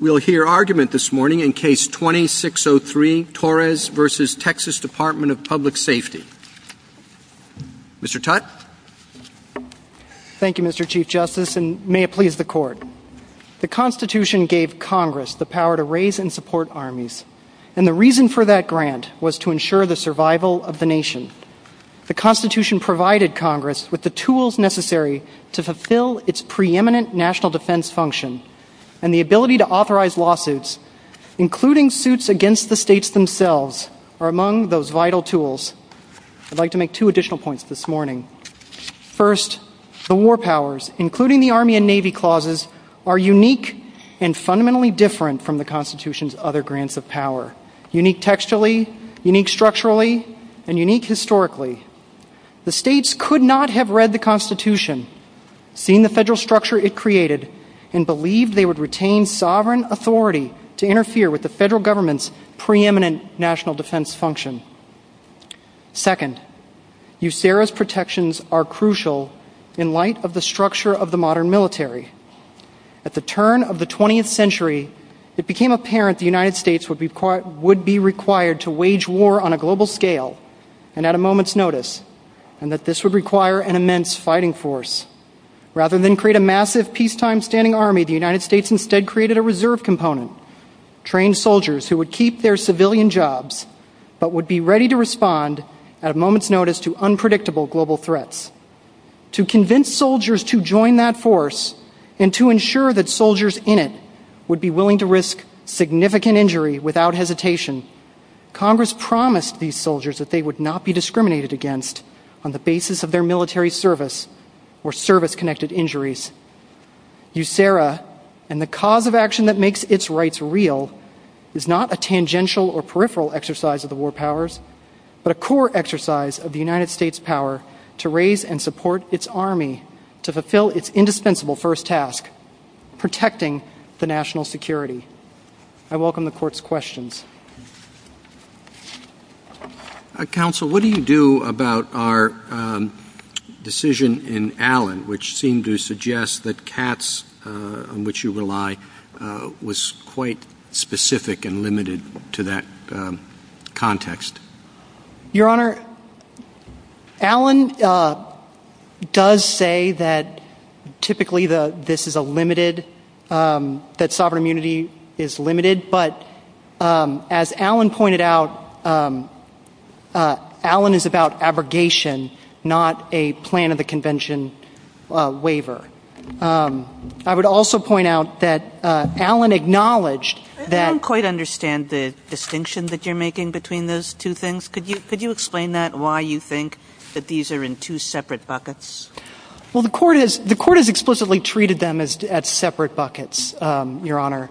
We'll hear argument this morning in Case 2603, Torres v. Texas Dept. of Public Safety. Mr. Tutte? Thank you, Mr. Chief Justice, and may it please the Court. The Constitution gave Congress the power to raise and support armies, and the reason for that grant was to ensure the survival of the nation. The Constitution provided Congress with the tools necessary to fulfill its preeminent national defense function, and the ability to authorize lawsuits, including suits against the states themselves, are among those vital tools. I'd like to make two additional points this morning. First, the war powers, including the Army and Navy clauses, are unique and fundamentally different from the Constitution's other grants of power. Unique textually, unique structurally, and unique historically. The states could not have read the Constitution, seen the federal structure it created, and believed they would retain sovereign authority to interfere with the federal government's preeminent national defense function. Second, USARA's protections are crucial in light of the structure of the modern military. At the turn of the 20th century, it became apparent the United States would be required to wage war on a global scale and at a moment's notice, and that this would require an immense fighting force. Rather than create a massive, peacetime-standing army, the United States instead created a reserve component, trained soldiers who would keep their civilian jobs, but would be ready to respond at a moment's notice to unpredictable global threats. To convince soldiers to join that force, and to ensure that soldiers in it would be willing to risk significant injury without hesitation, Congress promised these soldiers that they would not be discriminated against on the basis of their military service or service-connected injuries. USARA, and the cause of action that makes its rights real, is not a tangential or peripheral exercise of the war powers, but a core exercise of the United States' power to raise and support its army to fulfill its indispensable first task, protecting the national security. I welcome the Court's questions. Counsel, what do you do about our decision in Allen, which seemed to suggest that Katz, on which you rely, was quite specific and limited to that context? Your Honor, Allen does say that typically this is a limited, that sovereign immunity is limited, but as Allen pointed out, Allen is about abrogation, not a plan of the convention waiver. I would also point out that Allen acknowledged that... I don't quite understand the distinction that you're making between those two things. Could you explain that, why you think that these are in two separate buckets? The Court has explicitly treated them as separate buckets, Your Honor.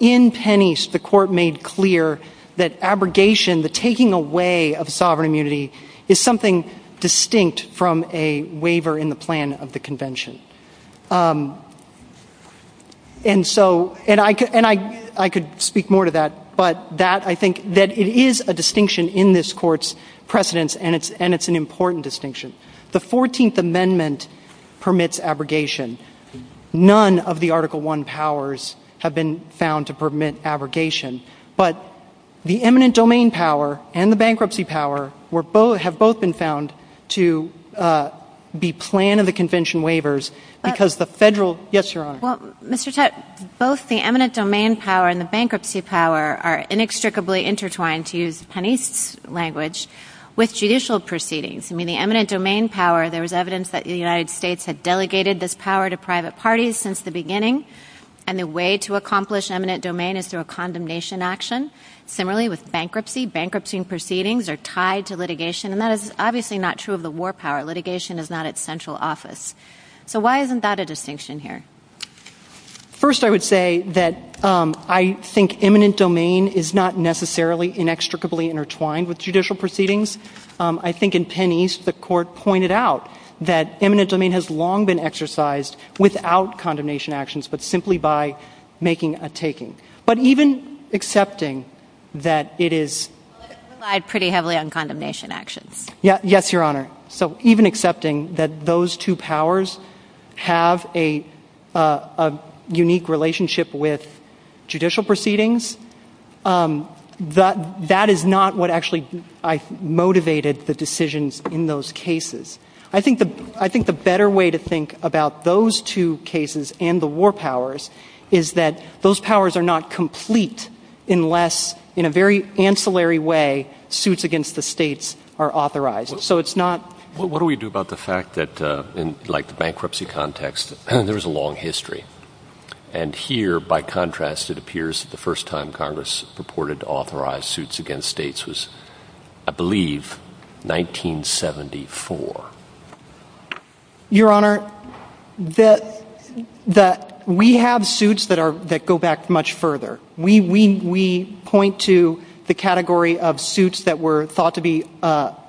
In Tennise, the Court made clear that abrogation, the taking away of sovereign immunity, is something distinct from a waiver in the plan of the convention. I could speak more to that, but I think that it is a distinction in this Court's precedence and it's an important distinction. The 14th Amendment permits abrogation. None of the Article I powers have been found to permit abrogation, but the eminent domain power and the bankruptcy power have both been found to be plan of the convention waivers because the federal... Yes, Your Honor. Well, Mr. Tutte, both the eminent domain power and the bankruptcy power are inextricably intertwined, to use Tennise language, with judicial proceedings. I mean, the eminent domain power, there's evidence that the United States had delegated this power to private parties since the beginning, and the way to accomplish eminent domain is through a condemnation action. Similarly, with bankruptcy, bankruptcy proceedings are tied to litigation, and that is obviously not true of the war power. Litigation is not its central office. So why isn't that a distinction here? First I would say that I think eminent domain is not necessarily inextricably intertwined with judicial proceedings. I think in Tennise, the Court pointed out that eminent domain has long been exercised without condemnation actions, but simply by making a taking. But even accepting that it is... I relied pretty heavily on condemnation actions. Yes, Your Honor. So even accepting that those two powers have a unique relationship with judicial proceedings, that is not what actually motivated the decisions in those cases. I think the better way to think about those two cases and the war powers is that those powers are not complete unless, in a very ancillary way, suits against the states are authorized. So it's not... What do we do about the fact that, like the bankruptcy context, there's a long history? And here, by contrast, it appears that the first time Congress reported authorized suits against states was, I believe, 1974. Your Honor, we have suits that go back much further. We point to the category of suits that were thought to be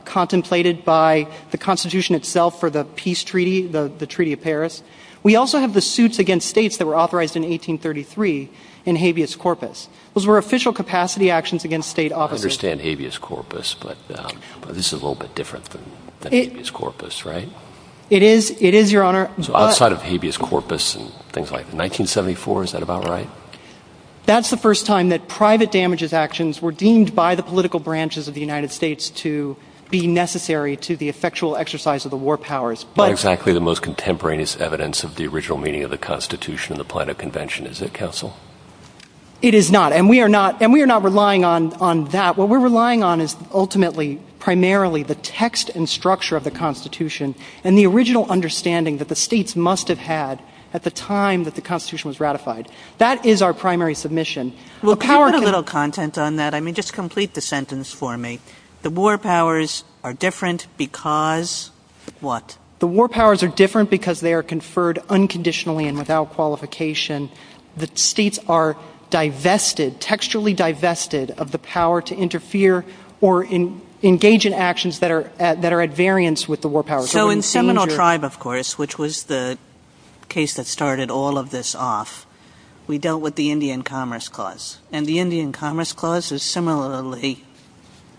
contemplated by the Constitution itself for the peace treaty, the Treaty of Paris. We also have the suits against states that were authorized in 1833 in habeas corpus. Those were official capacity actions against state authorities. I understand habeas corpus, but this is a little bit different than habeas corpus, right? It is, Your Honor. So outside of habeas corpus and things like that, in 1974, is that about right? That's the first time that private damages actions were deemed by the political branches of the United States to be necessary to the effectual exercise of the war powers. Not exactly the most contemporaneous evidence of the original meaning of the Constitution and the Planet Convention, is it, Counsel? It is not, and we are not relying on that. What we're relying on is ultimately, primarily, the text and structure of the Constitution and the original understanding that the states must have had at the time that the Constitution was ratified. That is our primary submission. Well, can I put a little content on that? I mean, just complete the sentence for me. The war powers are different because what? The war powers are different because they are conferred unconditionally and without qualification. The states are divested, textually divested, of the power to interfere or engage in actions that are at variance with the war powers. So in Seminole Tribe, of course, which was the case that started all of this off, we dealt with the Indian Commerce Clause, and the Indian Commerce Clause is similarly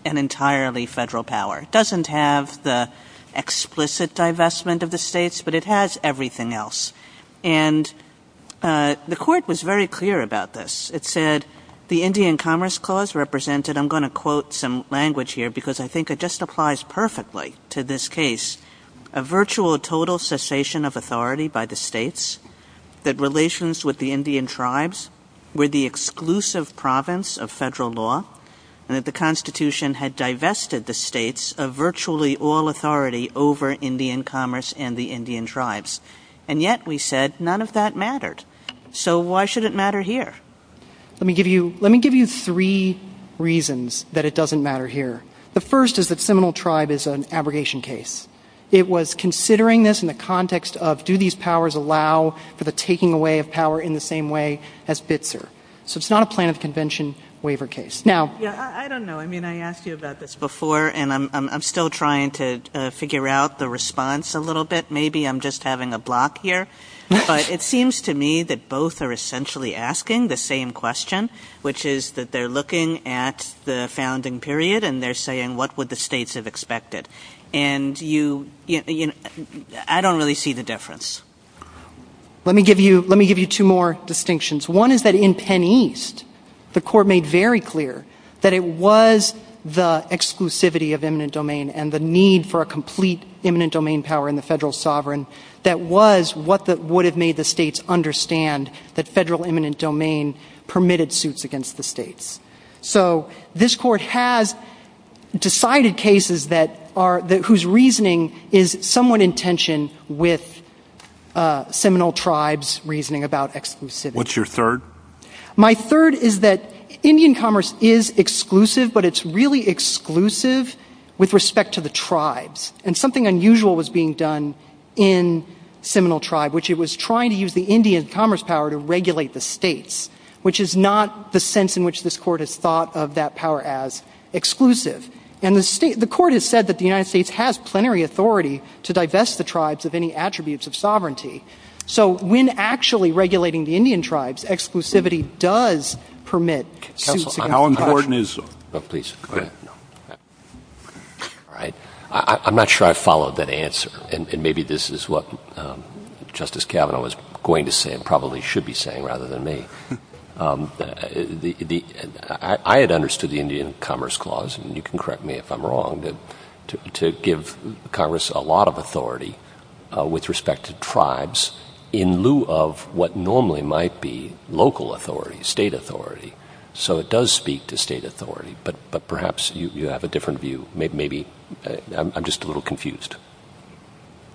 an entirely federal power. It doesn't have the explicit divestment of the states, but it has everything else. And the Court was very clear about this. It said the Indian Commerce Clause represented, I'm going to quote some language here because I think it just applies perfectly to this case, a virtual total cessation of authority by the states, that relations with the Indian Tribes were the exclusive province of federal law, and that the Constitution had divested the states of virtually all authority over Indian Commerce and the Indian Tribes. And yet, we said, none of that mattered. So why should it matter here? Let me give you three reasons that it doesn't matter here. The first is that Seminole Tribe is an abrogation case. It was considering this in the context of, do these powers allow for the taking away of power in the same way as Bitzer? So it's not a plan of convention waiver case. I don't know. I mean, I asked you about this before, and I'm still trying to figure out the response a little bit. Maybe I'm just having a block here. But it seems to me that both are essentially asking the same question, which is that they're looking at the founding period and they're saying, what would the states have expected? And I don't really see the difference. Let me give you two more distinctions. One is that in Penn East, the Court made very clear that it was the exclusivity of eminent domain and the need for a complete eminent domain power in the federal sovereign that was what would have made the states understand that federal eminent domain permitted suits against the states. So this Court has decided cases whose reasoning is somewhat in tension with Seminole Tribes' reasoning about exclusivity. What's your third? My third is that Indian commerce is exclusive, but it's really exclusive with respect to the tribes. And something unusual was being done in Seminole Tribe, which it was trying to use the Indian commerce power to regulate the states, which is not the sense in which this Court has thought of that power as exclusive. And the Court has said that the United States has plenary authority to divest the tribes of any attributes of sovereignty. So when actually regulating the Indian tribes, exclusivity does permit suits against the tribes. I'm not sure I followed that answer, and maybe this is what Justice Kavanaugh was going to say and probably should be saying rather than me. I had understood the Indian commerce clause, and you can correct me if I'm wrong, to give Congress a lot of authority with respect to tribes in lieu of what normally might be local authority, state authority. So it does speak to state authority, but perhaps you have a different view. I'm just a little confused.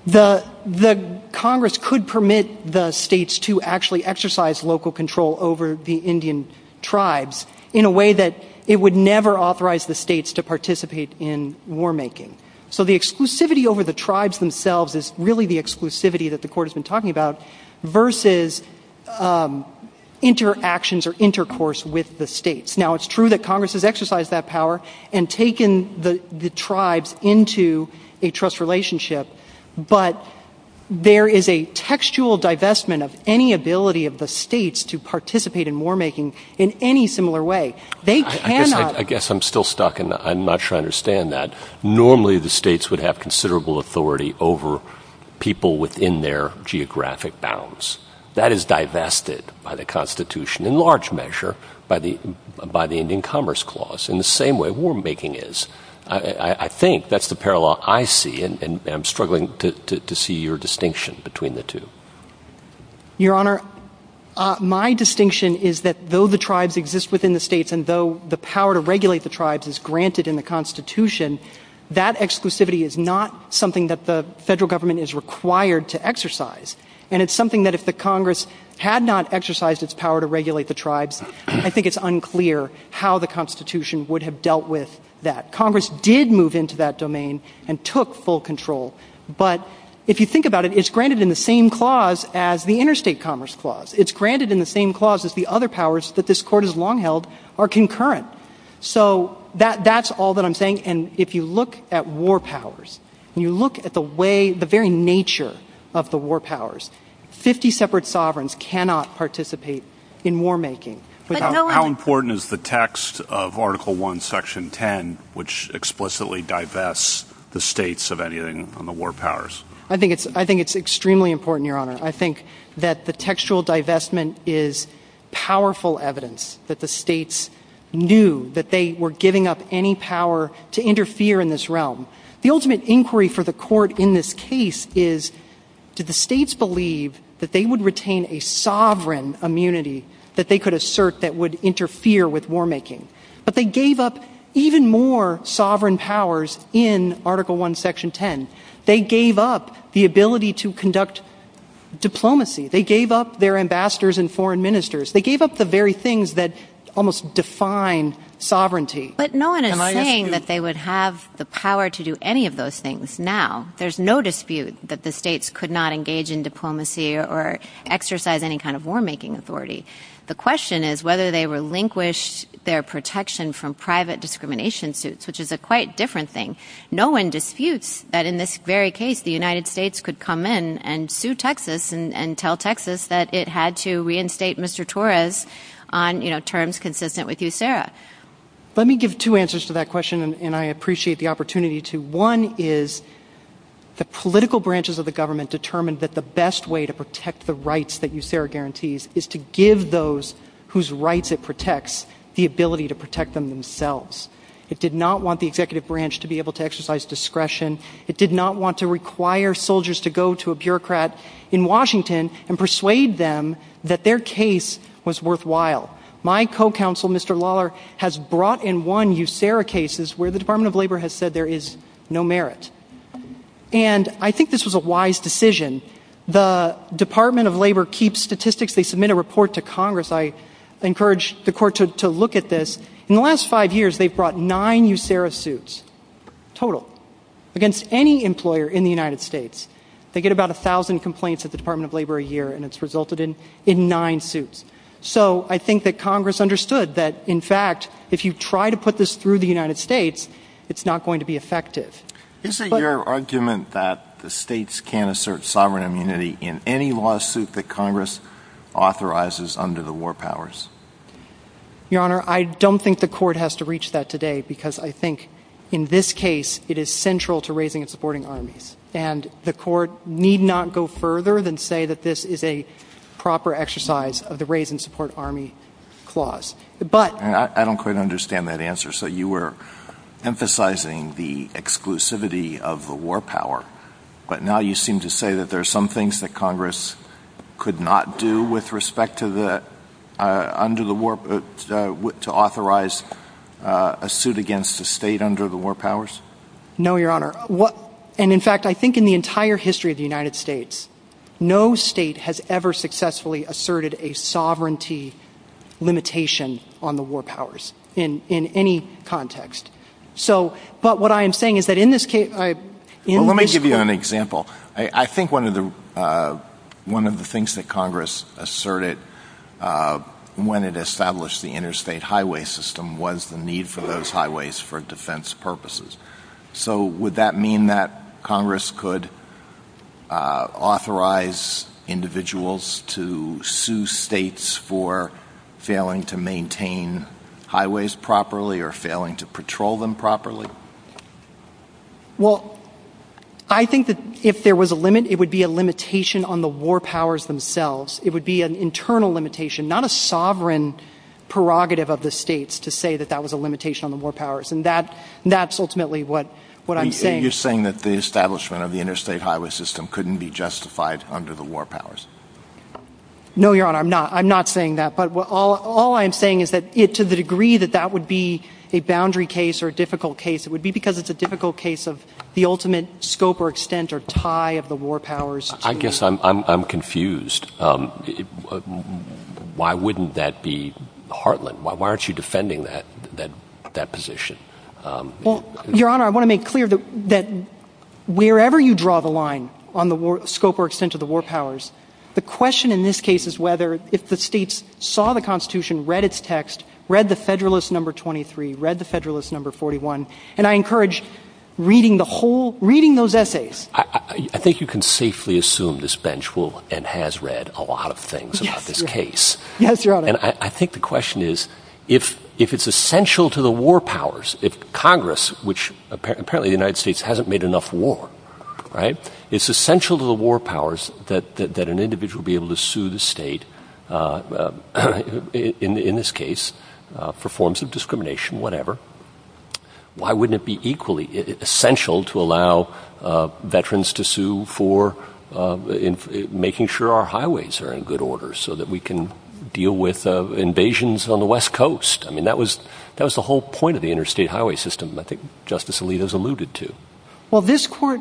The Congress could permit the states to actually exercise local control over the Indian tribes in a way that it would never authorize the states to participate in war making. So the exclusivity over the tribes themselves is really the exclusivity that the Court has been talking about versus interactions or intercourse with the states. Now it's true that Congress has exercised that power and taken the tribes into a trust relationship, but there is a textual divestment of any ability of the states to participate in war making in any similar way. They cannot... I guess I'm still stuck, and I'm not sure I understand that. Normally the states would have considerable authority over people within their geographic bounds. That is divested by the Constitution in large measure by the Indian commerce clause in the same way war making is. I think that's the parallel I see, and I'm struggling to see your distinction between the two. Your Honor, my distinction is that though the tribes exist within the states and though the power to regulate the tribes is granted in the Constitution, that exclusivity is not something that the federal government is required to exercise, and it's something that if the Congress had not exercised its power to regulate the tribes, I think it's unclear how the Constitution would have dealt with that. Congress did move into that domain and took full control, but if you think about it, it's granted in the same clause as the interstate commerce clause. It's granted in the same clause as the other powers that this Court has long held are concurrent. So that's all that I'm saying, and if you look at war powers, and you look at the very nature of the war powers, 50 separate sovereigns cannot participate in war making without... How important is the text of Article 1, Section 10, which explicitly divests the states of anything from the war powers? I think it's extremely important, Your Honor. I think that the textual divestment is powerful evidence that the states knew that they were giving up any power to interfere in this realm. The ultimate inquiry for the Court in this case is, did the states believe that they would retain a sovereign immunity that they could assert that would interfere with war making? But they gave up even more sovereign powers in Article 1, Section 10. They gave up the ability to conduct diplomacy. They gave up their ambassadors and foreign ministers. They gave up the very things that almost define sovereignty. But no one is saying that they would have the power to do any of those things now. There's no dispute that the states could not engage in diplomacy or exercise any kind of war making authority. The question is whether they relinquished their protection from private discrimination suits, which is a quite different thing. No one disputes that in this very case, the United States could come in and sue Texas and tell Texas that it had to reinstate Mr. Torres on terms consistent with USERRA. Let me give two answers to that question, and I appreciate the opportunity to. One is the political branches of the government determined that the best way to protect the rights that USERRA guarantees is to give those whose rights it protects the ability to protect them themselves. It did not want the executive branch to be able to exercise discretion. It did not want to require soldiers to go to a bureaucrat in Washington and persuade them that their case was worthwhile. My co-counsel, Mr. Lawler, has brought in one USERRA case where the Department of Labor has said there is no merit. And I think this was a wise decision. The Department of Labor keeps statistics. They submit a report to Congress. I encourage the court to look at this. In the last five years, they've brought nine USERRA suits, total, against any employer in the United States. They get about 1,000 complaints at the Department of Labor a year, and it's resulted in nine suits. So I think that Congress understood that, in fact, if you try to put this through the United States, it's not going to be effective. Is it your argument that the states can't assert sovereign immunity in any lawsuit that Congress authorizes under the war powers? Your Honor, I don't think the court has to reach that today, because I think in this case, it is central to raising and supporting armies. And the court need not go further than say that this is a proper exercise of the raise and support army clause. But I don't quite understand that answer. So you were emphasizing the exclusivity of the war power. But now you seem to say that there are some things that Congress could not do with respect to authorize a suit against the state under the war powers? No, Your Honor. And, in fact, I think in the entire history of the United States, no state has ever successfully asserted a sovereignty limitation on the war powers in any context. But what I am saying is that in this case... Let me give you an example. I think one of the things that Congress asserted when it established the interstate highway system was the need for those highways for defense purposes. So would that mean that Congress could authorize individuals to sue states for failing to maintain highways properly or failing to patrol them properly? Well, I think that if there was a limit, it would be a limitation on the war powers themselves. It would be an internal limitation, not a sovereign prerogative of the states to say that that was a limitation on the war powers. And that's ultimately what I'm saying. You're saying that the establishment of the interstate highway system couldn't be justified under the war powers? No, Your Honor, I'm not. I'm not saying that. But all I'm saying is that to the degree that that would be a boundary case or a difficult case, it would be because it's a difficult case of the ultimate scope or extent or tie of the war powers. I guess I'm confused. Why wouldn't that be heartland? Why aren't you defending that position? Well, Your Honor, I want to make clear that wherever you draw the line on the scope or extent of the war powers, the question in this case is whether if the states saw the Constitution, read its text, read the Federalist No. 23, read the Federalist No. 41, and I encourage reading the whole, reading those essays. I think you can safely assume this bench will and has read a lot of things about this case. And I think the question is, if it's essential to the war powers, if Congress, which apparently the United States hasn't made enough war, right, it's essential to the war powers that an individual be able to sue the state, in this case, for forms of discrimination, whatever. Why wouldn't it be equally essential to allow veterans to sue for making sure our highways are in good order so that we can deal with invasions on the West Coast? I mean, that was the whole point of the interstate highway system, I think Justice Alito's alluded to. Well, this court,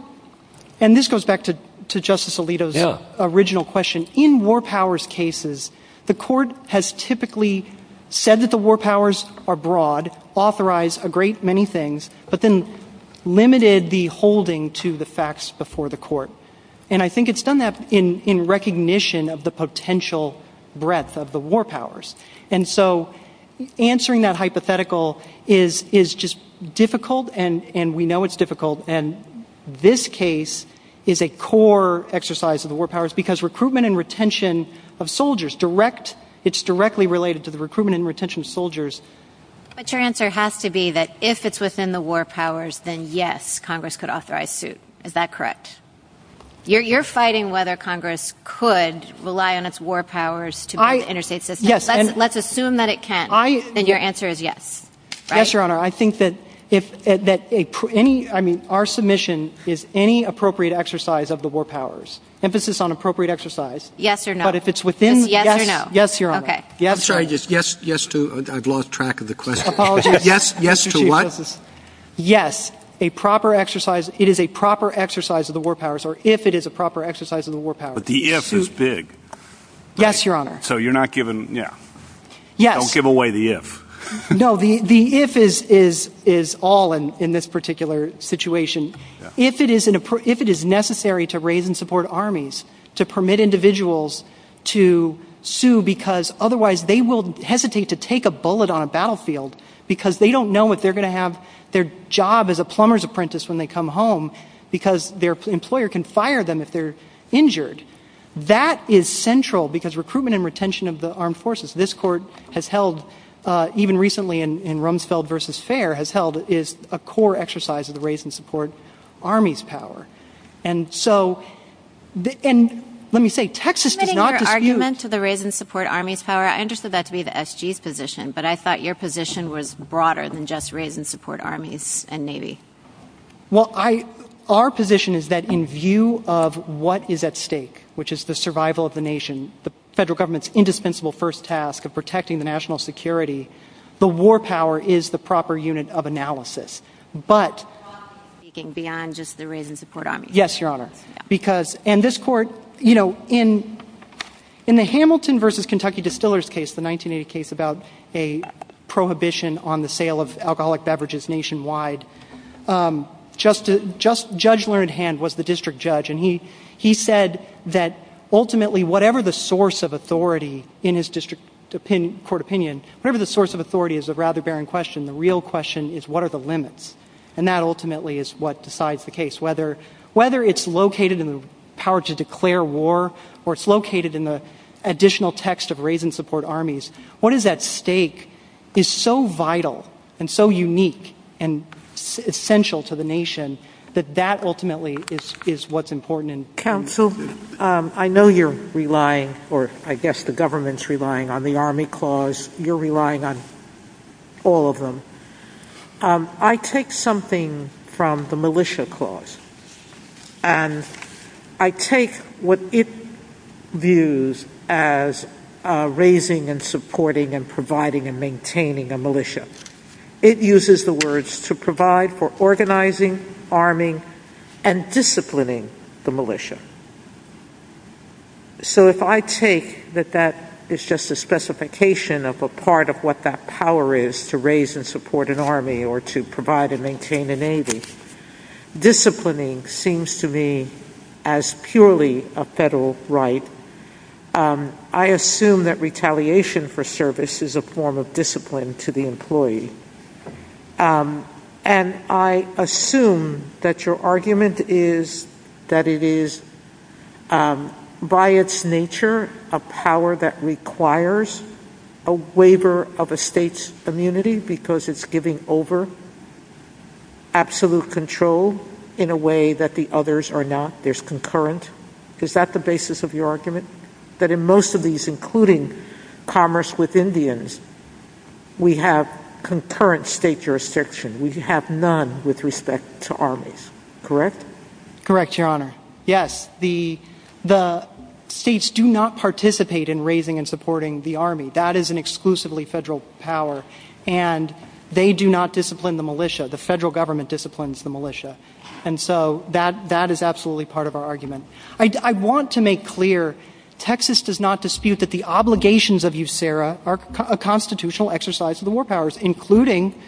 and this goes back to Justice Alito's original question, in war powers cases, the court has typically said that the war powers are broad, authorized a great many things, but then limited the holding to the facts before the court. And I think it's done that in recognition of the potential breadth of the war powers. And so answering that hypothetical is just difficult, and we know it's difficult. And this case is a core exercise of the war powers, because recruitment and retention of soldiers, direct, it's directly related to the recruitment and retention of soldiers. But your answer has to be that if it's within the war powers, then yes, Congress could authorize suit. Is that correct? You're fighting whether Congress could rely on its war powers to interstate the West Coast? Let's assume that it can. Then your answer is yes. Yes, Your Honor. I think that if any, I mean, our submission is any appropriate exercise of the war powers, emphasis on appropriate exercise. Yes or no? But if it's within... Yes or no? Yes, Your Honor. Okay. I'm sorry, just yes to, I've lost track of the question. Apologies. Yes to what? Yes, a proper exercise, it is a proper exercise of the war powers, or if it is a proper exercise of the war powers. But the yes is big. Yes, Your Honor. So you're not giving, yeah. Yes. Don't give away the if. No, the if is all in this particular situation. If it is necessary to raise and support armies to permit individuals to sue because otherwise they will hesitate to take a bullet on a battlefield because they don't know if they're going to have their job as a plumber's apprentice when they come home because their employer can fire them if they're injured. That is central because recruitment and retention of the armed forces, this court has held, even recently in Rumsfeld versus Fair, has held is a core exercise of the raise and support armies power. And so, and let me say, Texas does not dispute... I'm getting your argument to the raise and support armies power. I understood that to be the SG's position, but I thought your position was broader than just raise and support armies and Navy. Well, I, our position is that in view of what is at stake, which is the survival of the nation, the federal government's indispensable first task of protecting the national security, the war power is the proper unit of analysis. But... You're speaking beyond just the raise and support armies. Yes, your honor. Because, and this court, you know, in the Hamilton versus Kentucky Distillers case, the 1980 case about a prohibition on the sale of alcoholic beverages nationwide, Judge Learned Hand was the district judge, and he said that ultimately, whatever the source of authority in his district court opinion, whatever the source of authority is a rather barren question. The real question is, what are the limits? And that ultimately is what decides the case. Whether it's located in the power to declare war, or it's located in the additional text of raise and support armies, what is at stake is so vital and so unique and essential to the nation, that that ultimately is what's important. Counsel, I know you're relying, or I guess the government's relying on the Army Clause. You're relying on all of them. I take something from the Militia Clause, and I take what it views as raising and supporting and providing and maintaining a militia. It uses the words to provide for organizing, arming, and disciplining the militia. So if I take that that is just a specification of a part of what that power is, to raise and support an army, or to provide and maintain a navy. Disciplining seems to me as purely a federal right. I assume that retaliation for service is a form of discipline to the employee. And I assume that your argument is that it is by its nature a power that requires a waiver of a state's immunity because it's giving over absolute control in a way that the others are not. There's concurrent. Is that the basis of your argument? That in most of these, including commerce with Indians, we have concurrent state jurisdiction. We have none with respect to armies. Correct? Correct, Your Honor. Yes. The states do not participate in raising and supporting the army. That is an exclusively federal power. And they do not discipline the militia. The federal government disciplines the militia. And so that is absolutely part of our argument. I want to make clear, Texas does not dispute that the obligations of USERRA are a constitutional exercise of the war powers, including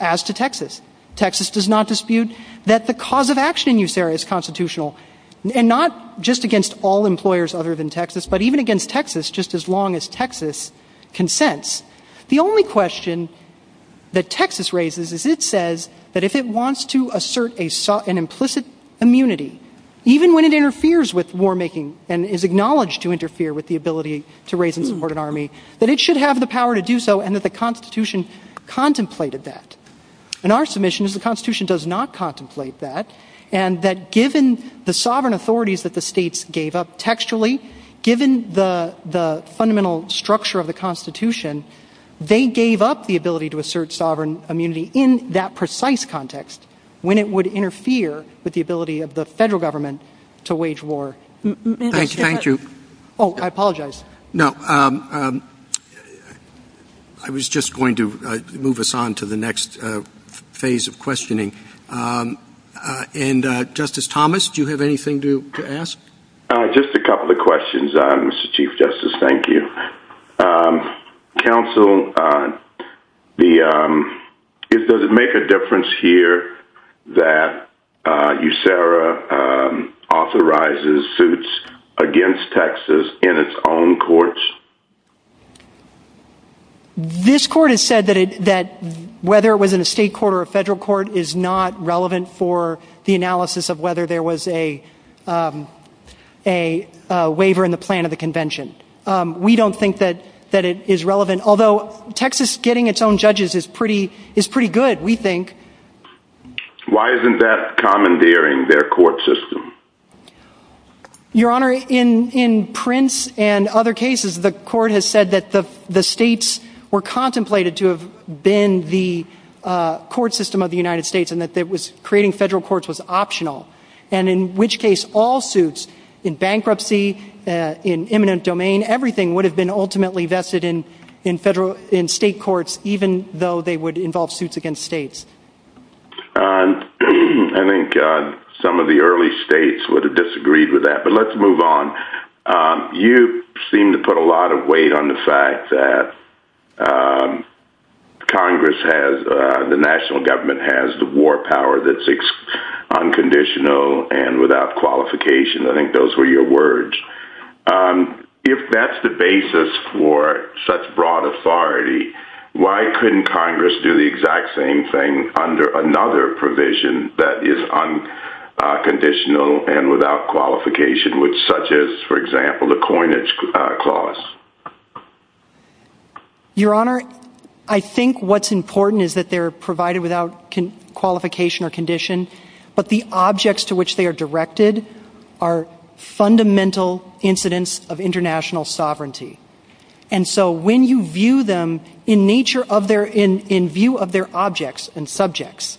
as to Texas. Texas does not dispute that the cause of action in USERRA is constitutional. And not just against all employers other than Texas, just as long as Texas consents. The only question that Texas raises is it says that if it wants to assert an implicit immunity, even when it interferes with war making and is acknowledged to interfere with the ability to raise and support an army, that it should have the power to do so and that the Constitution contemplated that. And our submission is the Constitution does not contemplate that. And that given the sovereign authorities that the states gave up textually, given the fundamental structure of the Constitution, they gave up the ability to assert sovereign immunity in that precise context when it would interfere with the ability of the federal government to wage war. Thank you. Oh, I apologize. No. I was just going to move us on to the next phase of questioning. And Justice Thomas, do you have anything to ask? Just a couple of questions. Mr. Chief Justice, thank you. Counsel, does it make a difference here that USERRA authorizes suits against Texas in its own courts? This court has said that whether it was in a state court or a federal court is not relevant for the analysis of whether there was a waiver in the plan of the convention. We don't think that it is relevant, although Texas getting its own judges is pretty good, we think. Why isn't that commandeering their court system? Your Honor, in Prince and other cases, the court has said that the states were contemplated to have been the court system of the United States and that creating federal courts was optional, and in which case all suits, in bankruptcy, in eminent domain, everything would have been ultimately vested in state courts, even though they would involve suits against states. I think some of the early states would have disagreed with that, but let's move on. You seem to put a lot of weight on the fact that Congress has, the national government has the war power that's unconditional and without qualification. I think those were your words. If that's the basis for such broad authority, why couldn't Congress do the exact same thing under another provision that is unconditional and without qualification, such as, for example, the coinage clause? Your Honor, I think what's important is that they're provided without qualification or condition, but the objects to which they are directed are fundamental incidents of international sovereignty, and so when you view them in view of their objects and subjects,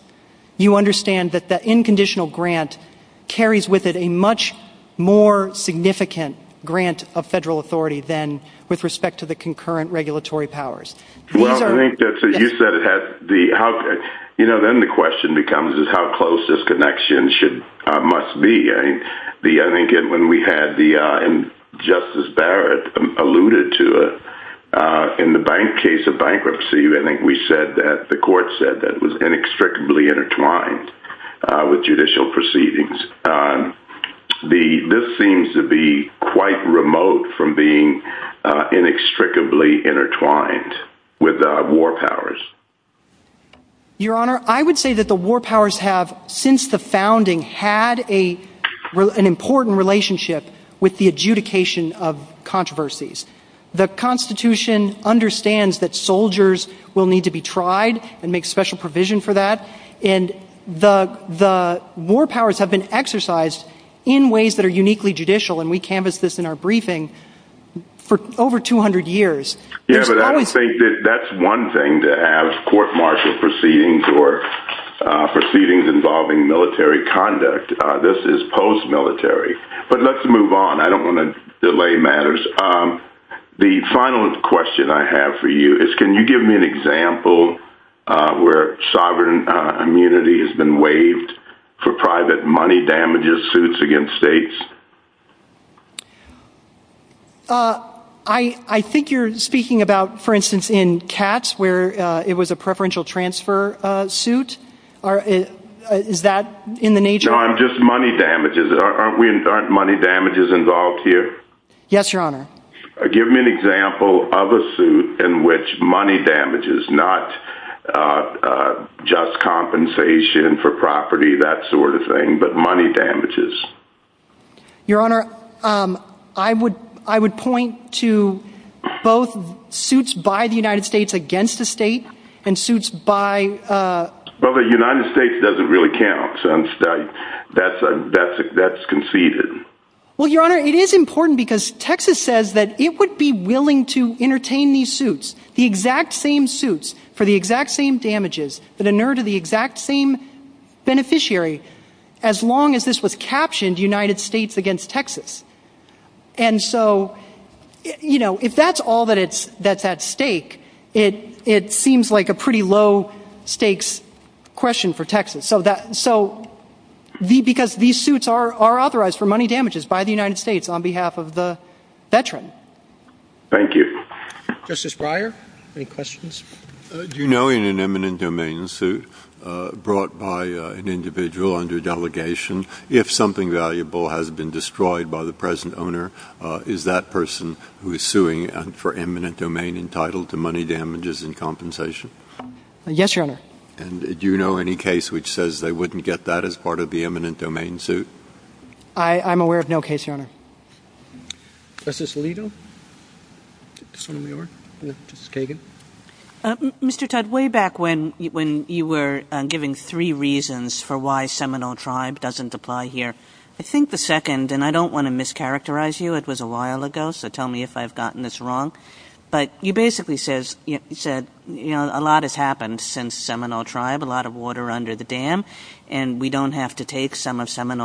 you understand that the unconditional grant carries with it a much more significant grant of federal authority than with respect to the concurrent regulatory powers. Well, I think that's what you said. Then the question becomes is how close this connection must be. I think when we had Justice Barrett alluded to it, in the case of bankruptcy, I think we said that the court said that it was inextricably intertwined with judicial proceedings. This seems to be quite remote from being inextricably intertwined with war powers. Your Honor, I would say that the war powers have, since the founding, had an important relationship with the adjudication of controversies. The Constitution understands that soldiers will need to be tried and make special provision for that, and the war powers have been exercised in ways that are uniquely judicial, and we canvassed this in our briefing for over 200 years. Yes, but I would say that that's one thing, that as court-martial proceedings or proceedings involving military conduct, this is post-military. But let's move on. I don't want to delay matters. The final question I have for you is can you give me an example where sovereign immunity has been waived for private money damages suits against states? I think you're speaking about, for instance, in Katz, where it was a preferential transfer suit. Is that in the nature? No, just money damages. Aren't money damages involved here? Yes, Your Honor. Give me an example of a suit in which money damages, not just compensation for property, that sort of thing, but money damages. Your Honor, I would point to both suits by the United States against the state and suits by... Well, the United States doesn't really count, so that's conceded. Well, Your Honor, it is important because Texas says that it would be willing to entertain these suits, the exact same suits for the exact same damages that inure to the exact same beneficiary as long as this was captioned United States against Texas. And so, you know, if that's all that's at stake, it seems like a pretty low-stakes question for Texas. So, because these suits are authorized for money damages by the United States on behalf of the veteran. Thank you. Justice Breyer, any questions? Do you know in an eminent domain suit brought by an individual under delegation, if something valuable has been destroyed by the present owner, is that person who is suing for eminent domain entitled to money damages and compensation? Yes, Your Honor. And do you know any case which says they wouldn't get that as part of the eminent domain suit? I'm aware of no case, Your Honor. Justice Alito? Mr. Todd, way back when you were giving three reasons for why Seminole Tribe doesn't apply here, I think the second, and I don't want to mischaracterize you, it was a while ago, so tell me if I've gotten this wrong, but you basically said, you know, a lot has happened since Seminole Tribe, a lot of water under the dam, and we don't have to take some of And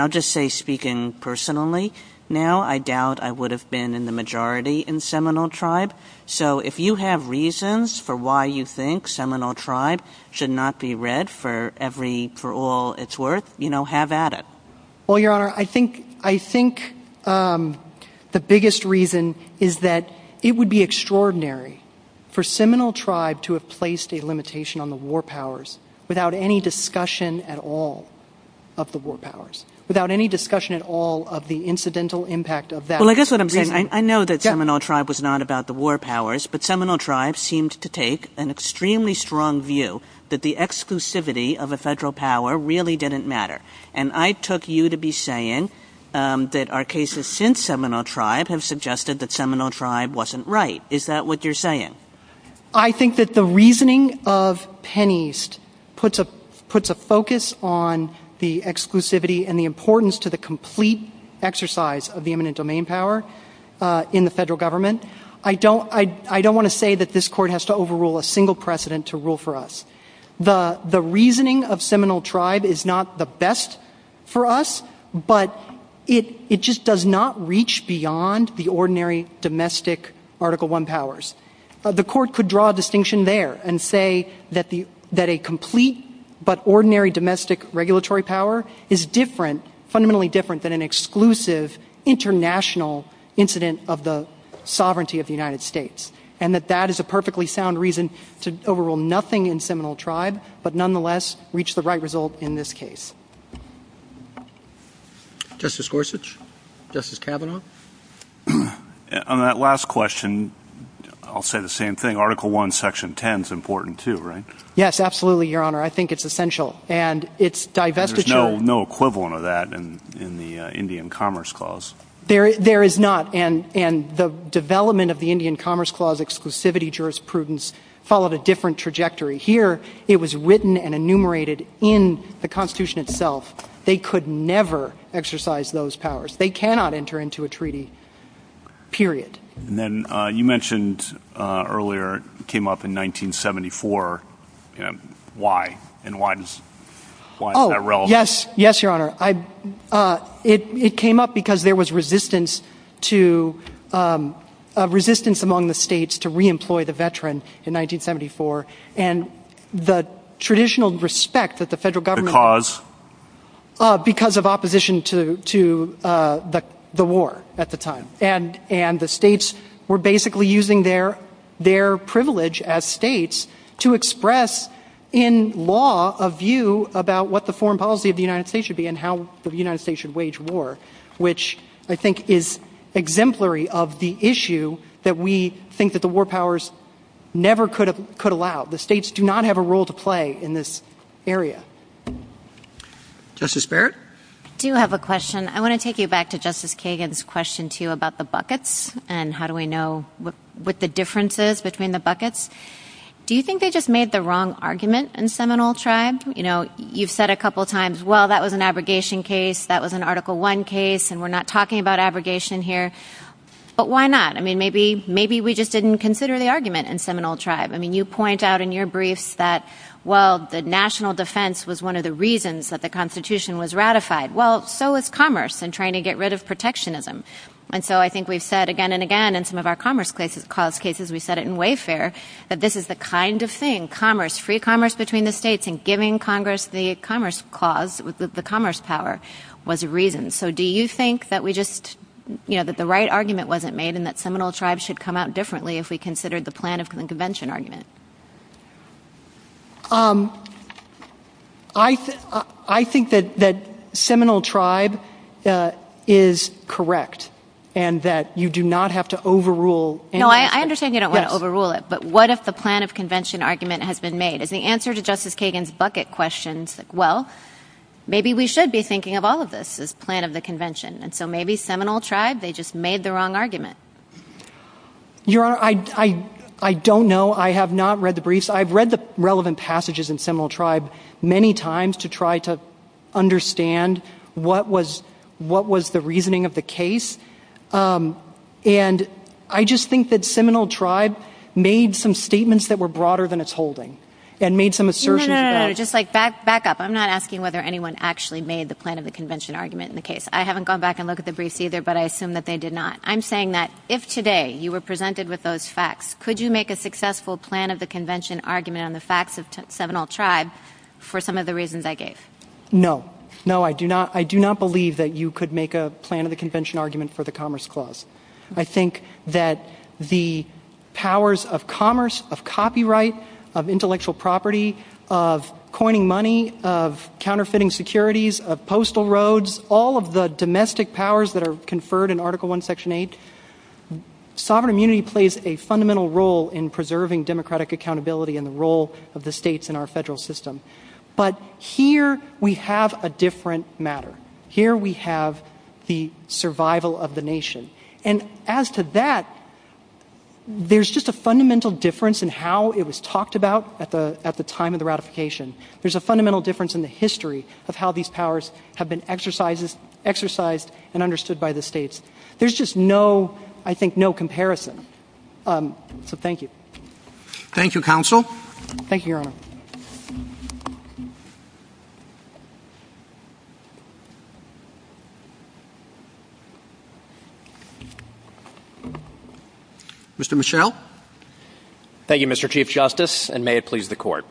I'll just say, speaking personally now, I doubt I would have been in the majority in Seminole Tribe, so if you have reasons for why you think Seminole Tribe should not be read for all it's worth, you know, have at it. Well, Your Honor, I think the biggest reason is that it would be extraordinary for Seminole Tribe to have placed a limitation on the war powers without any discussion at all of the incidental impact of that. Well, I guess what I'm saying, I know that Seminole Tribe was not about the war powers, but Seminole Tribe seemed to take an extremely strong view that the exclusivity of a federal power really didn't matter, and I took you to be saying that our cases since Seminole Tribe have suggested that Seminole Tribe wasn't right. Is that what you're saying? I think that the reasoning of Penn East puts a focus on the exclusivity and the importance to the complete exercise of the eminent domain power in the federal government. I don't want to say that this Court has to overrule a single precedent to rule for us. The reasoning of Seminole Tribe is not the best for us, but it just does not reach beyond the ordinary domestic Article I powers. The Court could draw a distinction there and say that a complete but ordinary domestic regulatory power is different, fundamentally different, than an exclusive international incident of the sovereignty of the United States, and that that is a perfectly sound reason to overrule nothing in Seminole Tribe, but nonetheless reach the right result in this case. Justice Gorsuch? Justice Kavanaugh? On that last question, I'll say the same thing. Article I, Section 10 is important too, right? Yes, absolutely, Your Honor. I think it's essential, and its divestiture... There's no equivalent of that in the Indian Commerce Clause. There is not, and the development of the Indian Commerce Clause exclusivity jurisprudence followed a different trajectory. Here, it was written and enumerated in the Constitution itself. They could never exercise those powers. They cannot enter into a treaty, period. And then you mentioned earlier it came up in 1974. Why? And why is that relevant? Oh, yes. Yes, Your Honor. It came up because there was resistance among the states to re-employ the veteran in 1974, and the traditional respect that the federal government... Because? Because of opposition to the war at the time. And the states were basically using their privilege as states to express in law a view about what the foreign policy of the United States should be and how the United States should wage war, which I think is exemplary of the issue that we think that the war powers never could allow. The states do not have a role to play in this area. Justice Barrett? I do have a question. I want to take you back to Justice Kagan's question, too, about the buckets and how do we know what the difference is between the buckets. Do you think they just made the wrong argument in Seminole Tribe? You know, you've said a couple times, well, that was an abrogation case, that was an Article I case, and we're not talking about abrogation here. But why not? I mean, maybe we just didn't consider the argument in Seminole Tribe. I mean, you point out in your brief that, well, the national defense was one of the reasons that the Constitution was ratified. Well, so was commerce in trying to get rid of protectionism. And so I think we've said again and again in some of our commerce-caused cases, we've said it in Wayfair, that this is the kind of thing, free commerce between the states and giving Congress the commerce power was a reason. So do you think that we just, you know, that the right argument wasn't made and that Seminole Tribe should come out differently if we considered the plan of convention argument? I think that Seminole Tribe is correct and that you do not have to overrule anything. No, I understand you don't want to overrule it, but what if the plan of convention argument has been made? As the answer to Justice Kagan's bucket question, well, maybe we should be thinking of all of this as plan of the convention. And so maybe Seminole Tribe, they just made the wrong argument. Your Honor, I don't know. I have not read the briefs. I've read the relevant passages in Seminole Tribe many times to try to understand what was the reasoning of the case. And I just think that Seminole Tribe made some statements that were broader than its holding and made some assertions about it. No, no, no, just like back up. I'm not asking whether anyone actually made the plan of the convention argument in the case. I haven't gone back and looked at the briefs either, but I assume that they did not. I'm saying that if today you were presented with those facts, could you make a successful plan of the convention argument on the facts of Seminole Tribe for some of the reasons I gave? No, no, I do not believe that you could make a plan of the convention argument for the Commerce Clause. I think that the powers of commerce, of copyright, of intellectual property, of coining money, of counterfeiting securities, of postal roads, all of the domestic powers that are conferred in Article I, Section 8, sovereign immunity plays a fundamental role in preserving democratic accountability and the role of the states in our federal system. But here we have a different matter. Here we have the survival of the nation. And as to that, there's just a fundamental difference in how it was talked about at the time of the ratification. There's a fundamental difference in the history of how these powers have been exercised and understood by the states. There's just no, I think, no comparison. So thank you. Thank you, Counsel. Thank you, Your Honor. Mr. Michel. Thank you, Mr. Chief Justice, and may it please the Court.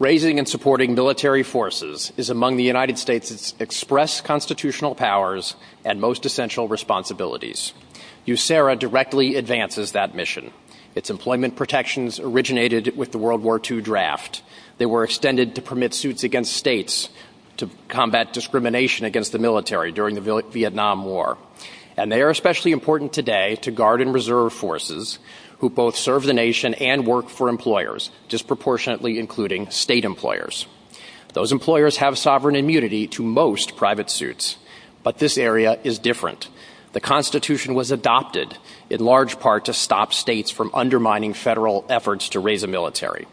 Raising and supporting military forces is among the United States' express constitutional powers and most essential responsibilities. USERRA directly advances that mission. Its employment protections originated with the World War II draft. They were extended to permit suits against states to combat discrimination against the military during the Vietnam War. And they are especially important today to Guard and Reserve Forces, who both serve the nation and work for employers, disproportionately including state employers. Those employers have sovereign immunity to most private suits. But this area is different. The Constitution was adopted in large part to stop states from undermining federal efforts to raise a military.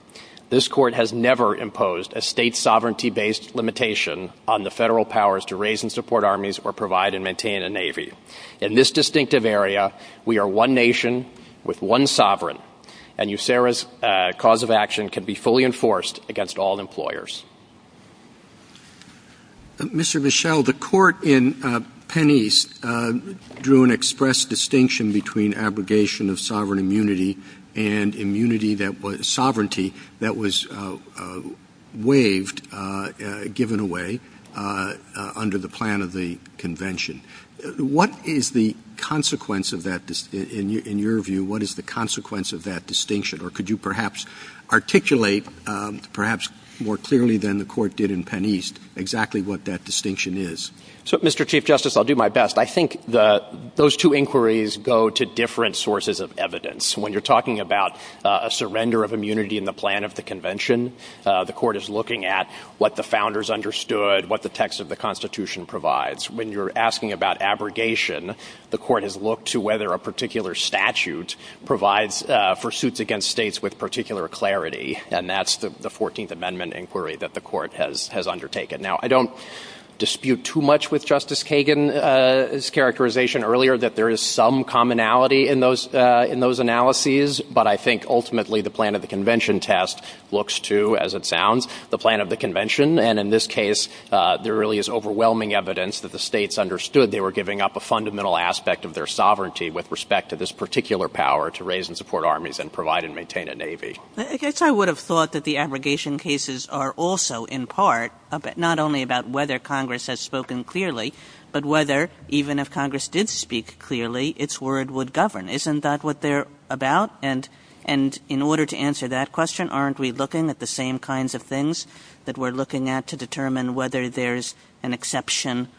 This Court has never imposed a state sovereignty-based limitation on the federal powers to raise and support armies or provide and maintain a navy. In this distinctive area, we are one nation with one sovereign. And USERRA's cause of action can be fully enforced against all employers. Mr. Michel, the Court in Penn East drew an express distinction between abrogation of sovereign immunity and sovereignty that was waived, given away, under the plan of the Convention. What is the consequence of that, in your view, what is the consequence of that distinction? Or could you perhaps articulate, perhaps more clearly than the Court did in Penn East, exactly what that distinction is? So, Mr. Chief Justice, I'll do my best. I think those two inquiries go to different sources of evidence. When you're talking about a surrender of immunity in the plan of the Convention, the Court is looking at what the Founders understood, what the text of the Constitution provides. When you're asking about abrogation, the Court has looked to whether a particular statute provides for suits against states with particular clarity. And that's the 14th Amendment inquiry that the Court has undertaken. Now, I don't dispute too much with Justice Kagan's characterization earlier that there is some commonality in those analyses, but I think ultimately the plan of the Convention test looks to, as it sounds, the plan of the Convention. And in this case, there really is overwhelming evidence that the states understood they were giving up a fundamental aspect of their sovereignty with respect to this particular power to raise and support armies and provide and maintain a navy. I guess I would have thought that the abrogation cases are also, in part, not only about whether Congress has spoken clearly, but whether, even if Congress did speak clearly, its word would govern. Isn't that what they're about? And in order to answer that question, aren't we looking at the same kinds of things that we're looking at to determine whether there's an exception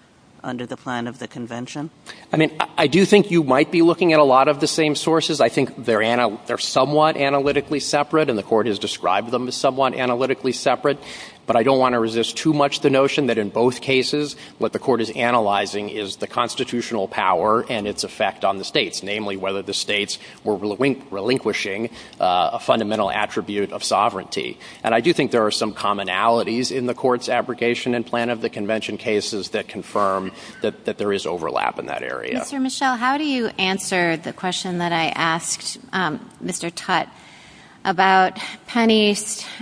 under the plan of the Convention? I mean, I do think you might be looking at a lot of the same sources. I think they're somewhat analytically separate, and the Court has described them as somewhat analytically separate, but I don't want to resist too much the notion that in both cases what the Court is analyzing is the constitutional power and its effect on the states, namely whether the states were relinquishing a fundamental attribute of sovereignty. And I do think there are some commonalities in the Court's abrogation and plan of the Convention cases that confirm that there is overlap in that area. Mr. Mischel, how do you answer the question that I asked Mr. Tutte about Penney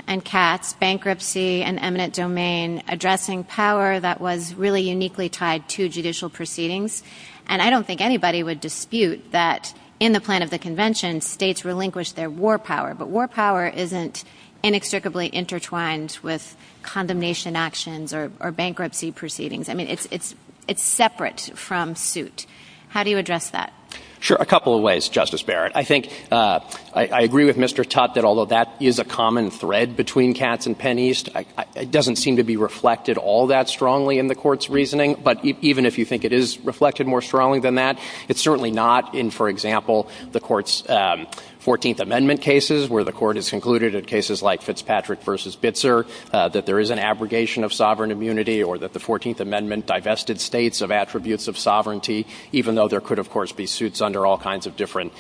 and Katz's bankruptcy and eminent domain addressing power that was really uniquely tied to judicial proceedings? And I don't think anybody would dispute that in the plan of the Convention, states relinquish their war power, but war power isn't inextricably intertwined with condemnation actions or bankruptcy proceedings. I mean, it's separate from suit. How do you address that? Sure, a couple of ways, Justice Barrett. I agree with Mr. Tutte that although that is a common thread between Katz and Penney, it doesn't seem to be reflected all that strongly in the Court's reasoning, but even if you think it is reflected more strongly than that, it's certainly not in, for example, the Court's 14th Amendment cases where the Court has concluded in cases like Fitzpatrick v. Bitzer that there is an abrogation of sovereign immunity or that the 14th Amendment divested states of attributes of sovereignty, even though there could, of course, be suits under all kinds of different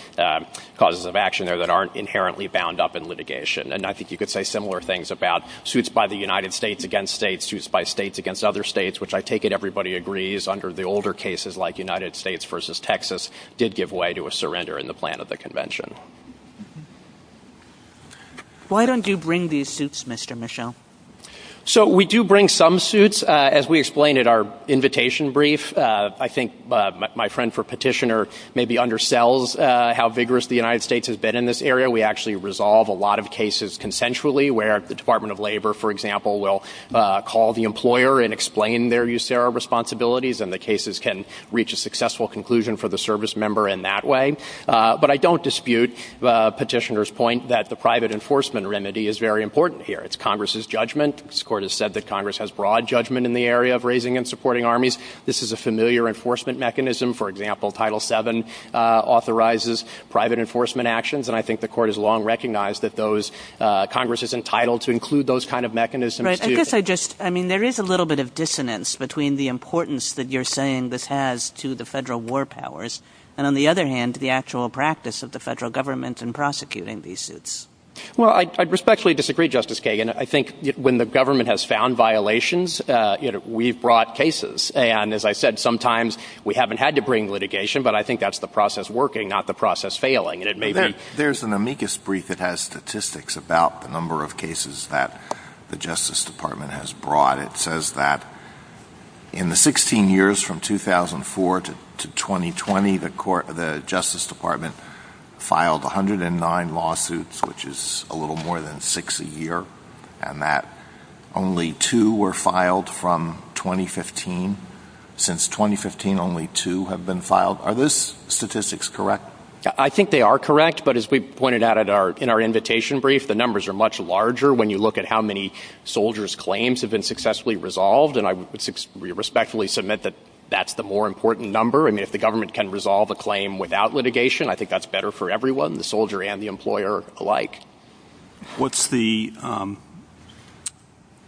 causes of action there that aren't inherently bound up in litigation. And I think you could say similar things about suits by the United States against states, suits by states against other states, which I take it everybody agrees under the older cases like United States v. Texas did give way to a surrender in the plan of the Convention. Why don't you bring these suits, Mr. Michel? So we do bring some suits. As we explained in our invitation brief, I think my friend for petitioner maybe undersells how vigorous the United States has been in this area. We actually resolve a lot of cases consensually where the Department of Labor, for example, will call the employer and explain their USERRA responsibilities and the cases can reach a successful conclusion for the service member in that way. But I don't dispute petitioner's point that the private enforcement remedy is very important here. It's Congress's judgment. This Court has said that Congress has broad judgment in the area of raising and supporting armies. This is a familiar enforcement mechanism. For example, Title VII authorizes private enforcement actions, and I think the Court has long recognized that Congress is entitled to include those kind of mechanisms. I guess there is a little bit of dissonance between the importance that you're saying this has to the federal war powers and, on the other hand, the actual practice of the federal government in prosecuting these suits. Well, I respectfully disagree, Justice Kagan. I think when the government has found violations, we've brought cases. And as I said, sometimes we haven't had to bring litigation, but I think that's the process working, not the process failing. There's an amicus brief that has statistics about the number of cases that the Justice Department has brought. It says that in the 16 years from 2004 to 2020, the Justice Department filed 109 lawsuits, which is a little more than six a year, and that only two were filed from 2015. Since 2015, only two have been filed. Are those statistics correct? I think they are correct, but as we pointed out in our invitation brief, the numbers are much larger when you look at how many soldiers' claims have been successfully resolved, and I respectfully submit that that's the more important number. I mean, if the government can resolve a claim without litigation, I think that's better for everyone, the soldier and the employer alike. What's the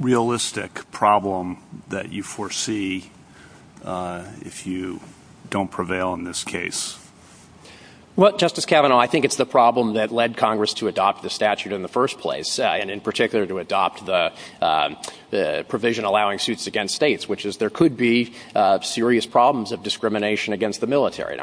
realistic problem that you foresee if you don't prevail in this case? Well, Justice Kavanaugh, I think it's the problem that led Congress to adopt the statute in the first place, and in particular to adopt the provision allowing suits against states, which is there could be serious problems of discrimination against the military.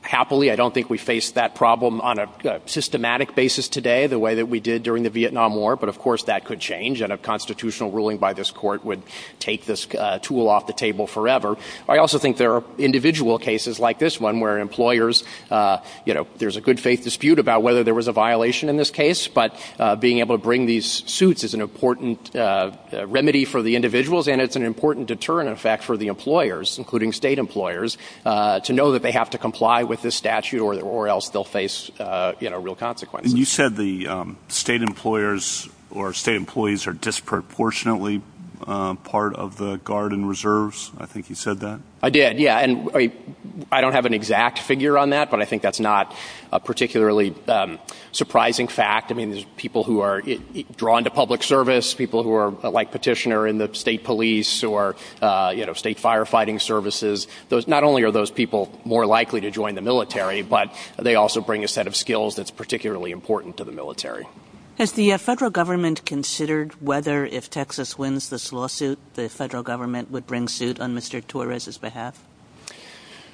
Happily, I don't think we face that problem on a systematic basis today the way that we did during the Vietnam War, but of course that could change, and a constitutional ruling by this court would take this tool off the table forever. I also think there are individual cases like this one where employers, you know, there's a good faith dispute about whether there was a violation in this case, but being able to bring these suits is an important remedy for the individuals, and it's an important deterrent effect for the employers, including state employers, to know that they have to comply with this statute or else they'll face real consequences. You said the state employers or state employees are disproportionately part of the Guard and Reserves. I think you said that. I did, yeah, and I don't have an exact figure on that, but I think that's not a particularly surprising fact. I mean, there's people who are drawn to public service, people who are like petitioner in the state police or, you know, state firefighting services. Not only are those people more likely to join the military, but they also bring a set of skills that's particularly important to the military. Has the federal government considered whether if Texas wins this lawsuit, the federal government would bring suit on Mr. Torres' behalf?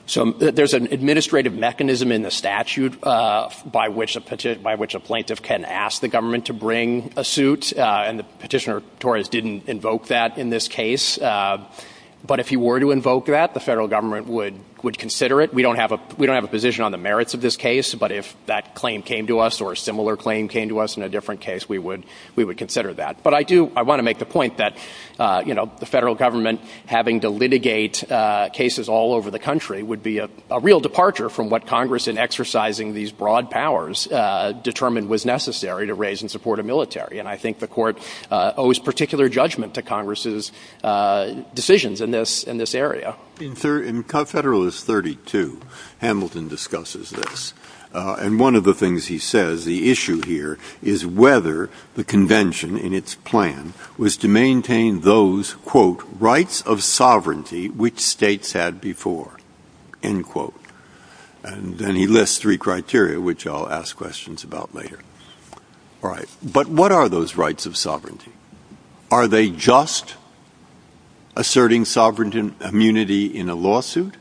So there's an administrative mechanism in the statute by which a plaintiff can ask the government to bring a suit, and Petitioner Torres didn't invoke that in this case. But if he were to invoke that, the federal government would consider it. We don't have a position on the merits of this case, but if that claim came to us or a similar claim came to us in a different case, we would consider that. But I do want to make the point that, you know, the federal government having to litigate cases all over the country would be a real departure from what Congress, in exercising these broad powers, determined was necessary to raise in support of military. And I think the court owes particular judgment to Congress's decisions in this area. In Federalist 32, Hamilton discusses this, and one of the things he says, the issue here is whether the convention in its plan was to maintain those, quote, rights of sovereignty which states had before, end quote. And he lists three criteria, which I'll ask questions about later. All right. But what are those rights of sovereignty? Are they just asserting sovereignty and immunity in a lawsuit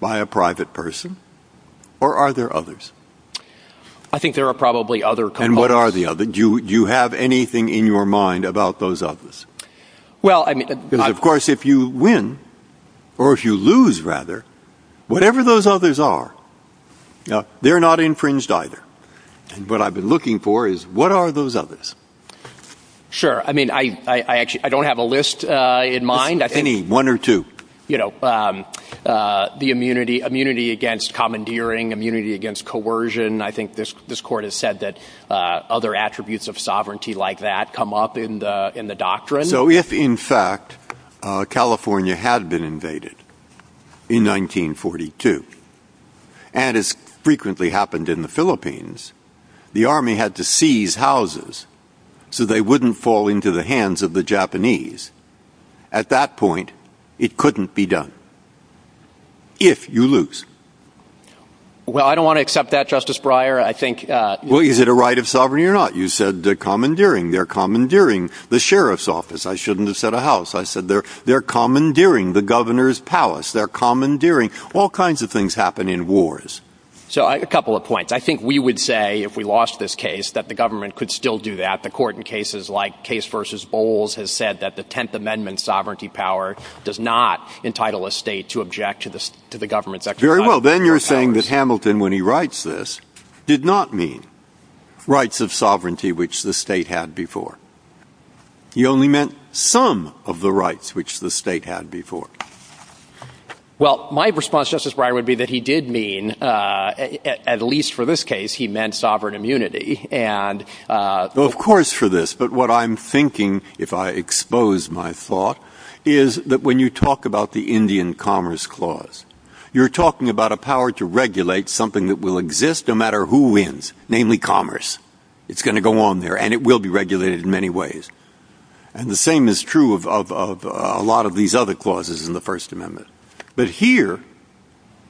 by a private person? Or are there others? I think there are probably other. And what are the other? Do you have anything in your mind about those others? Well, I mean, of course, if you win or if you lose rather, whatever those others are, they're not infringed either. What I've been looking for is what are those others? Sure. I mean, I don't have a list in mind. Any one or two. You know, the immunity against commandeering, immunity against coercion. I think this court has said that other attributes of sovereignty like that come up in the doctrine. So if, in fact, California had been invaded in 1942, and as frequently happened in the Philippines, the army had to seize houses so they wouldn't fall into the hands of the Japanese. At that point, it couldn't be done. If you lose. Well, I don't want to accept that, Justice Breyer. I think. Well, is it a right of sovereignty or not? You said the commandeering, they're commandeering the sheriff's office. I shouldn't have said a house. I said they're they're commandeering the governor's palace. They're commandeering. All kinds of things happen in wars. So a couple of points. I think we would say if we lost this case that the government could still do that. The court in cases like case versus bowls has said that the 10th Amendment sovereignty power does not entitle a state to object to the government. Very well. Then you're saying that Hamilton, when he writes this, did not mean rights of sovereignty, which the state had before. He only meant some of the rights which the state had before. Well, my response, Justice Breyer, would be that he did mean, at least for this case, he meant sovereign immunity. And, of course, for this. But what I'm thinking, if I expose my thought, is that when you talk about the Indian Commerce Clause, you're talking about a power to regulate something that will exist no matter who wins, namely commerce. It's going to go on there and it will be regulated in many ways. And the same is true of a lot of these other clauses in the First Amendment. But here,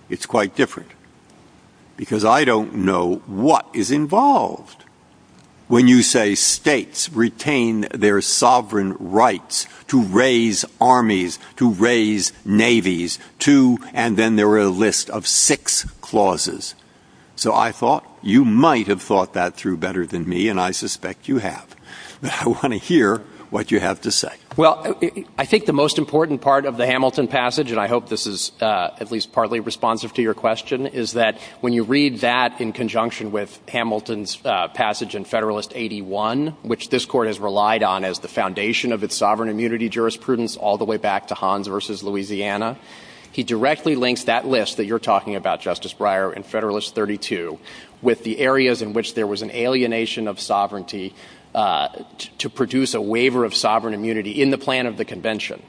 it's quite different. Because I don't know what is involved when you say states retain their sovereign rights to raise armies, to raise navies, to, and then there were a list of six clauses. So I thought you might have thought that through better than me, and I suspect you have. I want to hear what you have to say. Well, I think the most important part of the Hamilton passage, and I hope this is at least partly responsive to your question, is that when you read that in conjunction with Hamilton's passage in Federalist 81, which this Court has relied on as the foundation of its sovereign immunity jurisprudence all the way back to Hans v. Louisiana, he directly links that list that you're talking about, Justice Breyer, in Federalist 32 with the areas in which there was an alienation of sovereignty to produce a waiver of sovereign immunity in the plan of the Convention.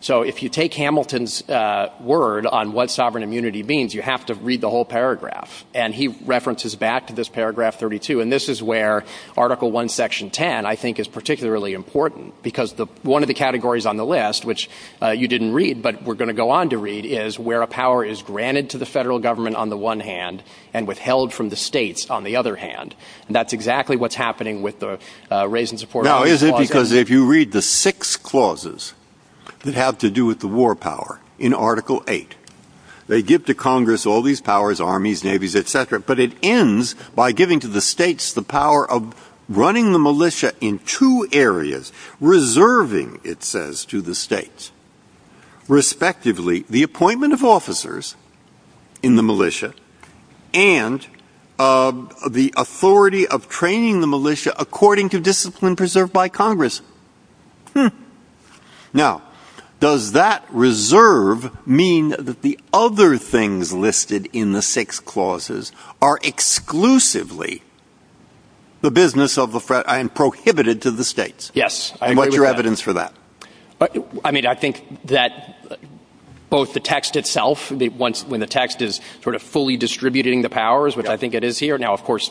So if you take Hamilton's word on what sovereign immunity means, you have to read the whole paragraph. And he references back to this paragraph 32, and this is where Article I, Section 10, I think, is particularly important, because one of the categories on the list, which you didn't read but we're going to go on to read, is where a power is granted to the federal government on the one hand, and withheld from the states on the other hand. And that's exactly what's happening with the raise and support. Now, is it because if you read the six clauses that have to do with the war power in Article VIII, they give to Congress all these powers, armies, navies, etc., but it ends by giving to the states the power of running the militia in two areas, reserving, it says, to the states, respectively, the appointment of officers in the militia, and the authority of training the militia according to discipline preserved by Congress. Now, does that reserve mean that the other things listed in the six clauses are exclusively the business of the, and prohibited to the states? Yes. And what's your evidence for that? I mean, I think that both the text itself, when the text is sort of fully distributing the powers, which I think it is here, now, of course,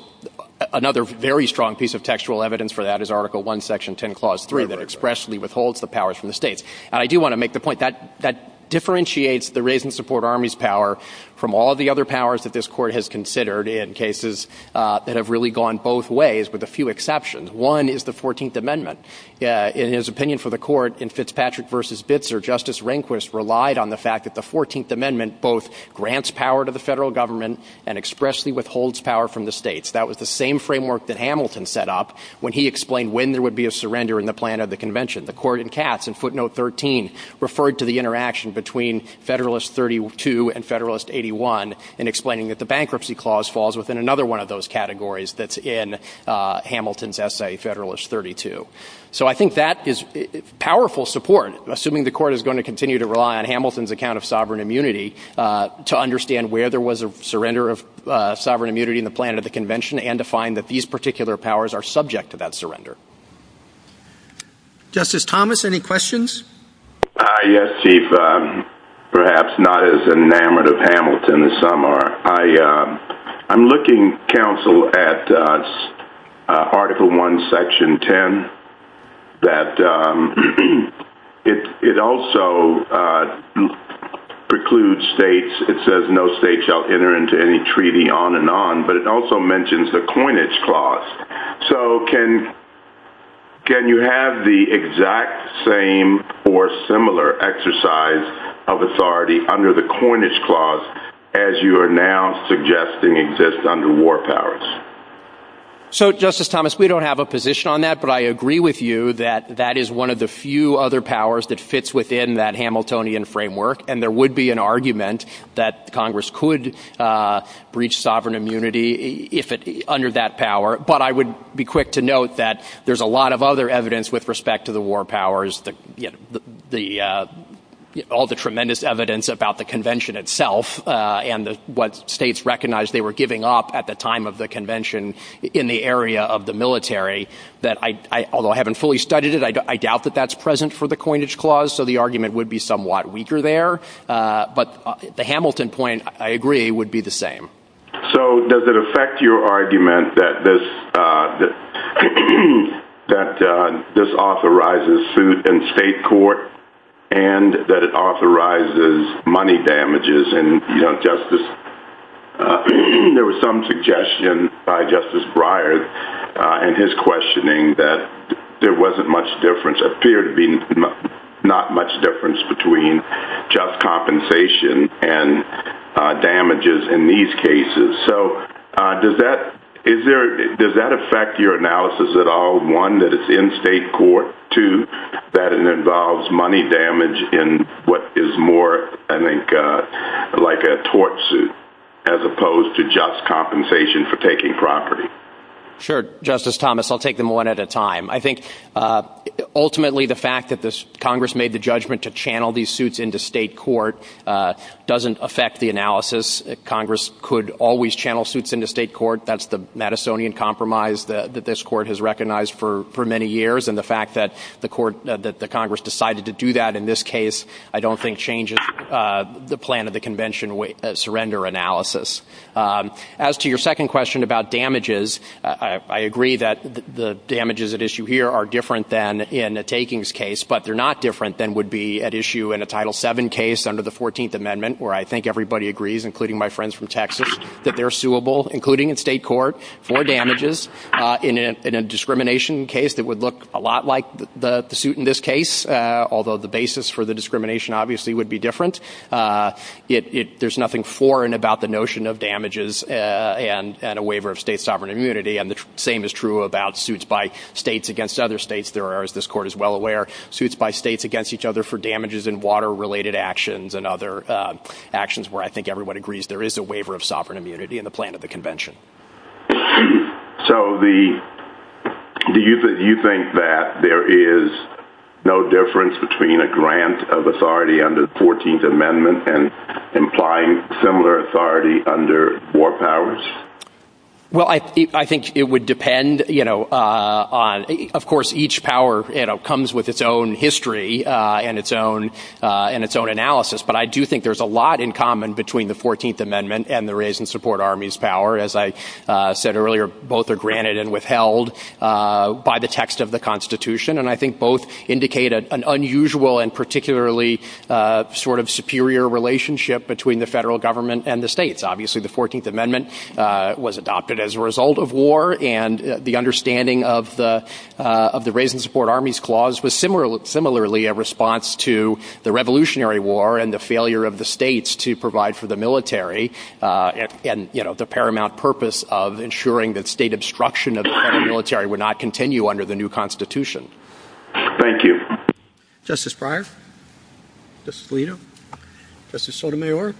another very strong piece of textual evidence for that is Article I, Section 10, Clause 3, that expressly withholds the powers from the states. And I do want to make the point that that differentiates the raise and support armies power from all the other powers that this court has considered in cases that have really gone both ways, with a few exceptions. One is the 14th Amendment. In his opinion for the court in Fitzpatrick v. Bitzer, Justice Rehnquist relied on the fact that the 14th Amendment both grants power to the federal government and expressly withholds power from the states. That was the same framework that Hamilton set up when he explained when there would be a surrender in the plan of the convention. The court in Katz in footnote 13 referred to the interaction between Federalist 32 and Federalist 81 in explaining that the bankruptcy clause falls within another one of those categories that's in Hamilton's essay, Federalist 32. So I think that is powerful support, assuming the court is going to continue to rely on Hamilton's account of sovereign immunity to understand where there was a surrender of sovereign immunity in the plan of the convention and to find that these particular powers are subject to that surrender. Justice Thomas, any questions? Yes, Chief. Perhaps not as enamored of Hamilton as some are. I'm looking, counsel, at Article I, Section 10. It also precludes states. It says no state shall enter into any treaty on and on, but it also mentions the coinage clause. So can you have the exact same or similar exercise of authority under the coinage clause as you are now suggesting exists under war powers? So, Justice Thomas, we don't have a position on that, but I agree with you that that is one of the few other powers that fits within that Hamiltonian framework, and there would be an argument that Congress could breach sovereign immunity under that power. But I would be quick to note that there's a lot of other evidence with respect to the war powers, all the tremendous evidence about the convention itself and what states recognized they were giving up at the time of the convention in the area of the military. Although I haven't fully studied it, I doubt that that's present for the coinage clause, so the argument would be somewhat weaker there. But the Hamilton point, I agree, would be the same. So does it affect your argument that this authorizes suit in state court and that it authorizes money damages in justice? There was some suggestion by Justice Breyer in his questioning that there wasn't much difference, appeared to be not much difference between just compensation and damages in these cases. So does that affect your analysis at all, one, that it's in state court, two, that it involves money damage in what is more, I think, like a tort suit as opposed to just compensation for taking property? Sure, Justice Thomas. I'll take them one at a time. I think ultimately the fact that Congress made the judgment to channel these suits into state court doesn't affect the analysis. Congress could always channel suits into state court. That's the Madisonian compromise that this court has recognized for many years. And the fact that the Congress decided to do that in this case I don't think changes the plan of the convention surrender analysis. As to your second question about damages, I agree that the damages at issue here are different than in the takings case. But they're not different than would be at issue in a Title VII case under the 14th Amendment where I think everybody agrees, including my friends from Texas, that they're suable, including in state court, for damages. In a discrimination case, it would look a lot like the suit in this case, although the basis for the discrimination obviously would be different. There's nothing foreign about the notion of damages and a waiver of state sovereign immunity. And the same is true about suits by states against other states. There are, as this court is well aware, suits by states against each other for damages in water-related actions and other actions where I think everyone agrees there is a waiver of sovereign immunity in the plan of the convention. So do you think that there is no difference between a grant of authority under the 14th Amendment and implying similar authority under war powers? Well, I think it would depend. Of course, each power comes with its own history and its own analysis. But I do think there's a lot in common between the 14th Amendment and the Raise and Support Armies power. As I said earlier, both are granted and withheld by the text of the Constitution. And I think both indicate an unusual and particularly sort of superior relationship between the federal government and the states. Obviously, the 14th Amendment was adopted as a result of war, and the understanding of the Raise and Support Armies clause was similarly a response to the Revolutionary War and the failure of the states to provide for the military and the paramount purpose of ensuring that state obstruction of the federal military would not continue under the new Constitution. Thank you. Justice Breyer, Justice Alito, Justice Sotomayor,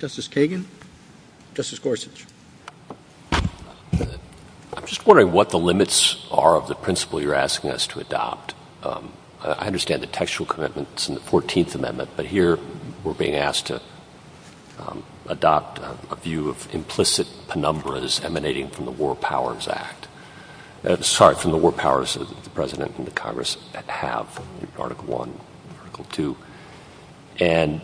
Justice Kagan, Justice Gorsuch. I'm just wondering what the limits are of the principle you're asking us to adopt. I understand the textual commitments in the 14th Amendment, but here we're being asked to adopt a view of implicit penumbras emanating from the War Powers Act. Sorry, from the War Powers that the President and the Congress have, Article I, Article II. And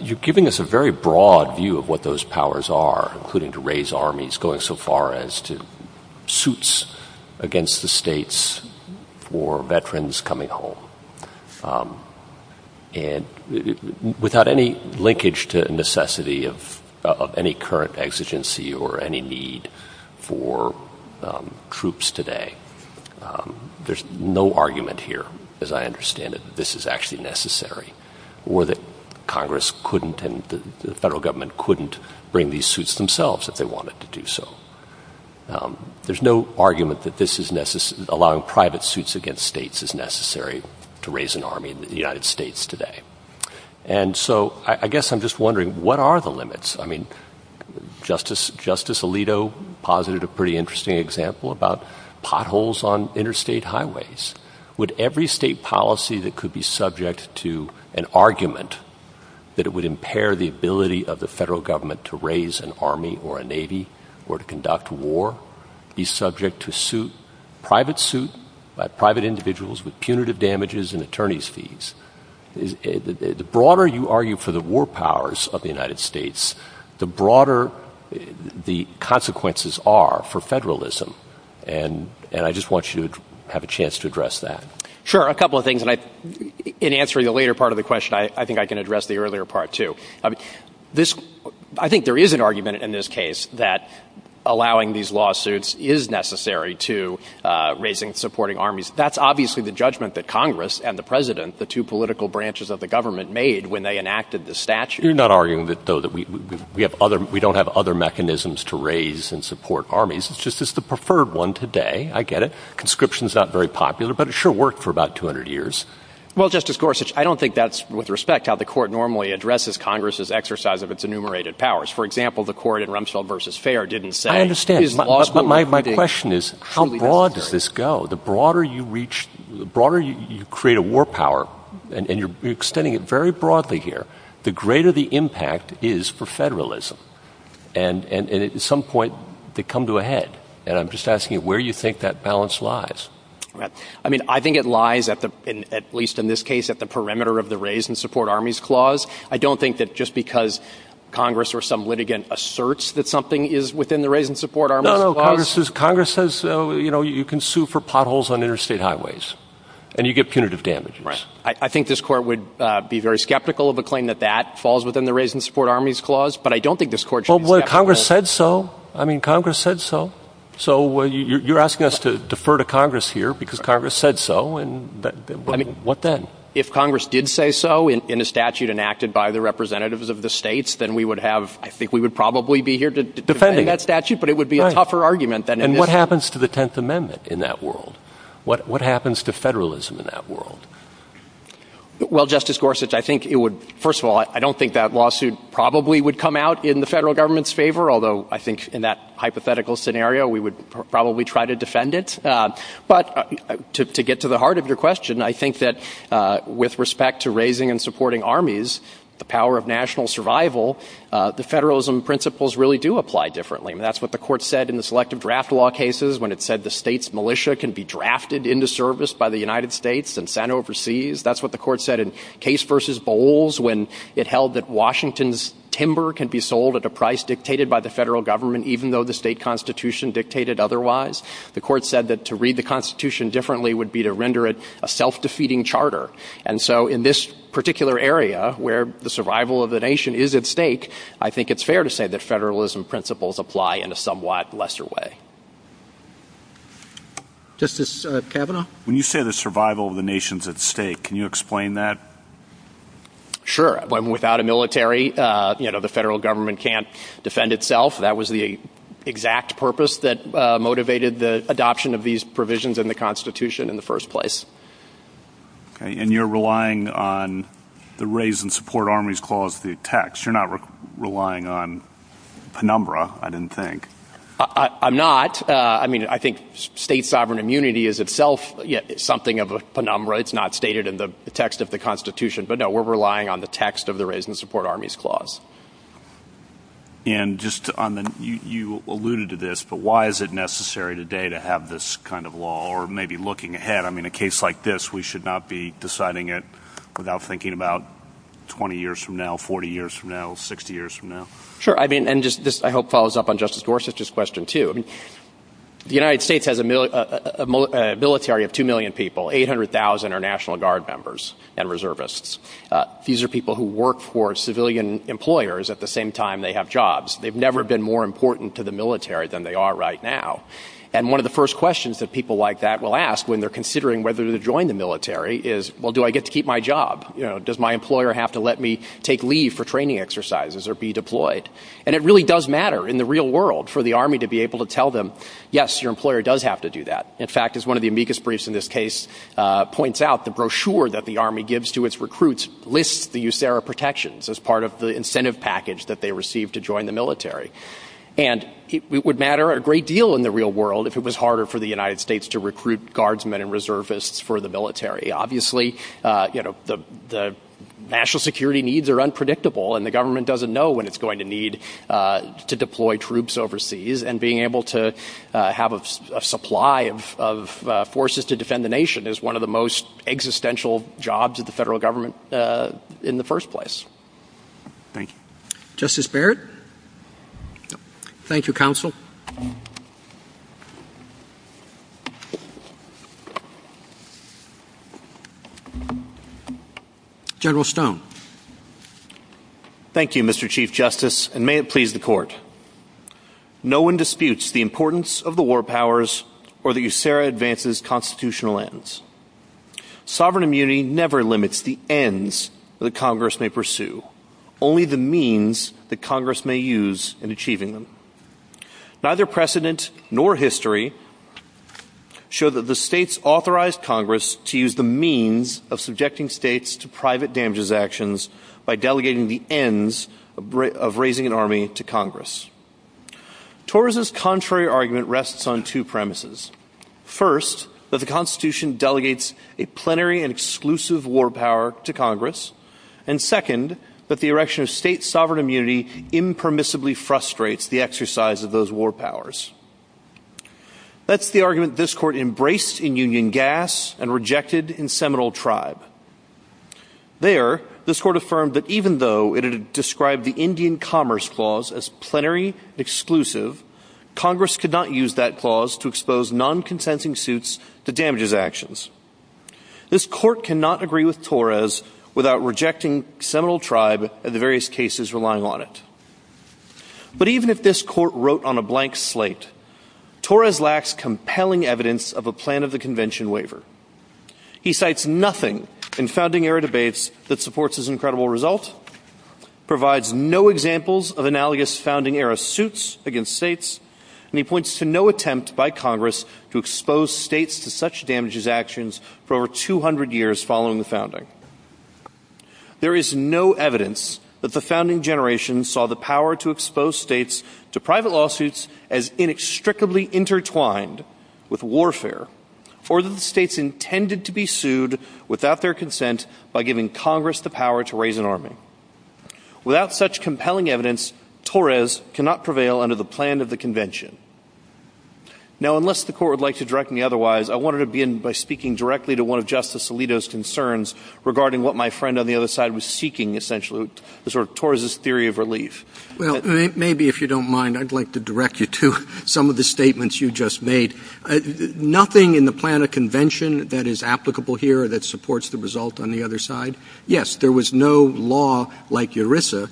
you're giving us a very broad view of what those powers are, including to raise armies, going so far as to suits against the states for veterans coming home. And without any linkage to necessity of any current exigency or any need for troops today, there's no argument here, as I understand it, that this is actually necessary or that Congress couldn't and the federal government couldn't bring these suits themselves if they wanted to do so. There's no argument that allowing private suits against states is necessary to raise an army in the United States today. And so I guess I'm just wondering, what are the limits? I mean, Justice Alito posited a pretty interesting example about potholes on interstate highways. Would every state policy that could be subject to an argument that it would impair the ability of the federal government to raise an army or a navy or to conduct war be subject to suit, private suit by private individuals with punitive damages and attorney's fees? The broader you argue for the war powers of the United States, the broader the consequences are for federalism. And I just want you to have a chance to address that. Sure, a couple of things. In answering the later part of the question, I think I can address the earlier part, too. I think there is an argument in this case that allowing these lawsuits is necessary to raising and supporting armies. That's obviously the judgment that Congress and the president, the two political branches of the government, made when they enacted the statute. You're not arguing, though, that we don't have other mechanisms to raise and support armies. It's just it's the preferred one today. I get it. Conscription's not very popular, but it sure worked for about 200 years. Well, Justice Gorsuch, I don't think that's with respect how the court normally addresses Congress's exercise of its enumerated powers. For example, the court in Rumsfeld v. Fair didn't say... My question is how broad does this go? The broader you create a war power, and you're extending it very broadly here, the greater the impact is for federalism. And at some point, they come to a head. And I'm just asking you where you think that balance lies. I mean, I think it lies, at least in this case, at the perimeter of the raise and support armies clause. I don't think that just because Congress or some litigant asserts that something is within the raise and support armies... Congress says you can sue for potholes on interstate highways, and you get punitive damages. I think this court would be very skeptical of a claim that that falls within the raise and support armies clause, but I don't think this court should... Well, Congress said so. I mean, Congress said so. So you're asking us to defer to Congress here because Congress said so. I mean, what then? If Congress did say so in a statute enacted by the representatives of the states, then we would have... I think we would probably be here defending that statute. But it would be a tougher argument than... And what happens to the Tenth Amendment in that world? What happens to federalism in that world? Well, Justice Gorsuch, I think it would... First of all, I don't think that lawsuit probably would come out in the federal government's favor, although I think in that hypothetical scenario, we would probably try to defend it. But to get to the heart of your question, I think that with respect to raising and supporting armies, the power of national survival, the federalism principles really do apply differently. I mean, that's what the court said in the Selective Draft Law cases when it said the states' militia can be drafted into service by the United States and sent overseas. That's what the court said in Case v. Bowles when it held that Washington's timber can be sold at a price dictated by the federal government even though the state constitution dictated otherwise. The court said that to read the constitution differently would be to render it a self-defeating charter. And so in this particular area where the survival of the nation is at stake, I think it's fair to say that federalism principles apply in a somewhat lesser way. Justice Kavanaugh? When you say the survival of the nation is at stake, can you explain that? Sure. Without a military, the federal government can't defend itself. That was the exact purpose that motivated the adoption of these provisions in the constitution in the first place. And you're relying on the Raise and Support Armies Clause, the text. You're not relying on penumbra, I didn't think. I'm not. I mean, I think state sovereign immunity is itself something of a penumbra. It's not stated in the text of the constitution. But, no, we're relying on the text of the Raise and Support Armies Clause. And you alluded to this, but why is it necessary today to have this kind of law or maybe looking ahead? I mean, a case like this, we should not be deciding it without thinking about 20 years from now, 40 years from now, 60 years from now. Sure. And this, I hope, follows up on Justice Gorsuch's question, too. The United States has a military of 2 million people. 800,000 are National Guard members and reservists. These are people who work for civilian employers at the same time they have jobs. They've never been more important to the military than they are right now. And one of the first questions that people like that will ask when they're considering whether to join the military is, well, do I get to keep my job? Does my employer have to let me take leave for training exercises or be deployed? And it really does matter in the real world for the Army to be able to tell them, yes, your employer does have to do that. In fact, as one of the amicus briefs in this case points out, the brochure that the Army gives to its recruits lists the USARA protections as part of the incentive package that they receive to join the military. And it would matter a great deal in the real world if it was harder for the United States to recruit Guardsmen and reservists for the military. Obviously, the national security needs are unpredictable and the government doesn't know when it's going to need to deploy troops overseas. And being able to have a supply of forces to defend the nation is one of the most existential jobs of the federal government in the first place. Thank you, Justice Barrett. Thank you, Counsel. General Stone. Thank you, Mr. Chief Justice, and may it please the court. No one disputes the importance of the war powers or the USARA advances constitutional ends. Sovereign immunity never limits the ends that Congress may pursue, only the means that Congress may use in achieving them. Neither precedent nor history show that the states authorized Congress to use the means of subjecting states to private damages actions by delegating the ends of raising an army to Congress. Torres's contrary argument rests on two premises. First, that the Constitution delegates a plenary and exclusive war power to Congress. And second, that the erection of state sovereign immunity impermissibly frustrates the exercise of those war powers. That's the argument this court embraced in Union Gas and rejected in Seminole Tribe. There, this court affirmed that even though it had described the Indian Commerce Clause as plenary and exclusive, Congress could not use that clause to expose non-consenting suits to damages actions. This court cannot agree with Torres without rejecting Seminole Tribe and the various cases relying on it. But even if this court wrote on a blank slate, Torres lacks compelling evidence of a plan of the convention waiver. He cites nothing in founding era debates that supports his incredible result, provides no examples of analogous founding era suits against states, and he points to no attempt by Congress to expose states to such damages actions for over 200 years following the founding. There is no evidence that the founding generation saw the power to expose states to private lawsuits as inextricably intertwined with warfare or that the states intended to be sued without their consent by giving Congress the power to raise an army. Without such compelling evidence, Torres cannot prevail under the plan of the convention. Now, unless the court would like to direct me otherwise, I wanted to begin by speaking directly to one of Justice Alito's concerns regarding what my friend on the other side was seeking, essentially, the sort of Torres's theory of relief. Well, maybe if you don't mind, I'd like to direct you to some of the statements you just made. Nothing in the plan of convention that is applicable here that supports the result on the other side? Yes, there was no law like ERISA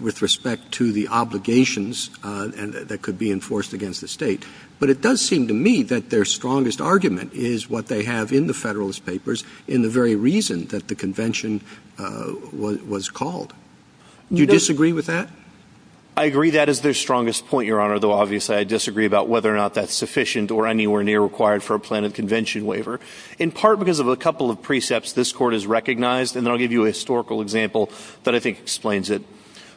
with respect to the obligations that could be enforced against the state, but it does seem to me that their strongest argument is what they have in the Federalist Papers in the very reason that the convention was called. Do you disagree with that? I agree that is their strongest point, Your Honor, though obviously I disagree about whether or not that's sufficient or anywhere near required for a plan of convention waiver. In part because of a couple of precepts this Court has recognized, and I'll give you a historical example that I think explains it.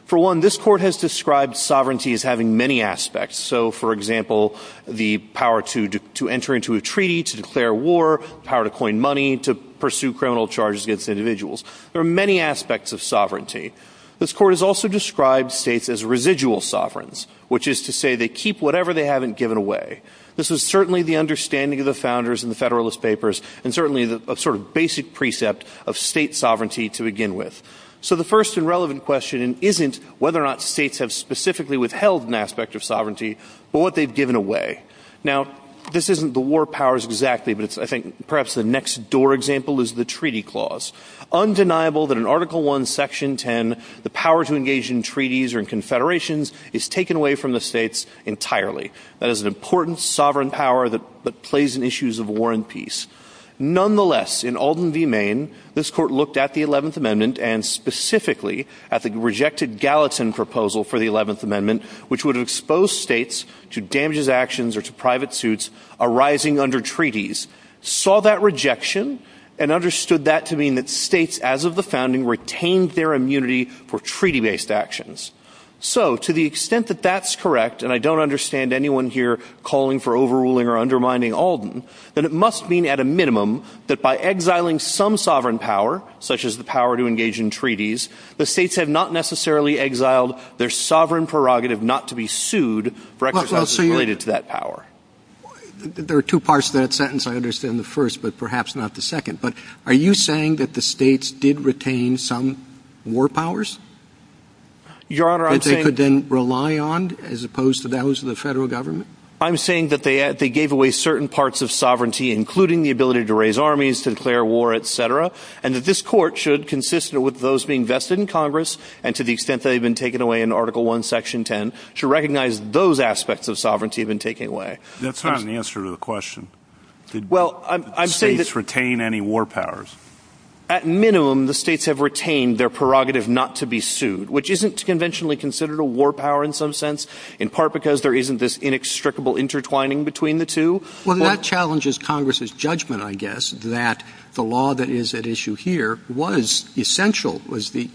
For one, this Court has described sovereignty as having many aspects. So, for example, the power to enter into a treaty, to declare war, power to coin money, to pursue criminal charges against individuals. There are many aspects of sovereignty. This Court has also described states as residual sovereigns, which is to say they keep whatever they haven't given away. This is certainly the understanding of the founders in the Federalist Papers and certainly a sort of basic precept of state sovereignty to begin with. So the first and relevant question isn't whether or not states have specifically withheld an aspect of sovereignty, but what they've given away. Now, this isn't the war powers exactly, but I think perhaps the next door example is the treaty clause. Undeniable that in Article I, Section 10, the power to engage in treaties or in confederations is taken away from the states entirely. That is an important sovereign power that plays in issues of war and peace. Nonetheless, in Alden v. Maine, this Court looked at the 11th Amendment and specifically at the rejected Gallatin proposal for the 11th Amendment, which would expose states to damages actions or to private suits arising under treaties, saw that rejection and understood that to mean that states, as of the founding, retained their immunity for treaty-based actions. So to the extent that that's correct, and I don't understand anyone here calling for overruling or undermining Alden, then it must mean at a minimum that by exiling some sovereign power, such as the power to engage in treaties, the states have not necessarily exiled their sovereign prerogative not to be sued for exercises related to that power. There are two parts to that sentence, I understand the first, but perhaps not the second. But are you saying that the states did retain some war powers? Your Honor, I'm saying... That they could then rely on, as opposed to those of the federal government? I'm saying that they gave away certain parts of sovereignty, including the ability to raise armies, to declare war, etc., and that this Court should, consistent with those being vested in Congress, and to the extent that they've been taken away in Article I, Section 10, should recognize those aspects of sovereignty have been taken away. That's not an answer to the question. Well, I'm saying that... Did the states retain any war powers? At minimum, the states have retained their prerogative not to be sued, which isn't conventionally considered a war power in some sense, in part because there isn't this inextricable intertwining between the two. Well, that challenges Congress's judgment, I guess, that the law that is at issue here was essential, was the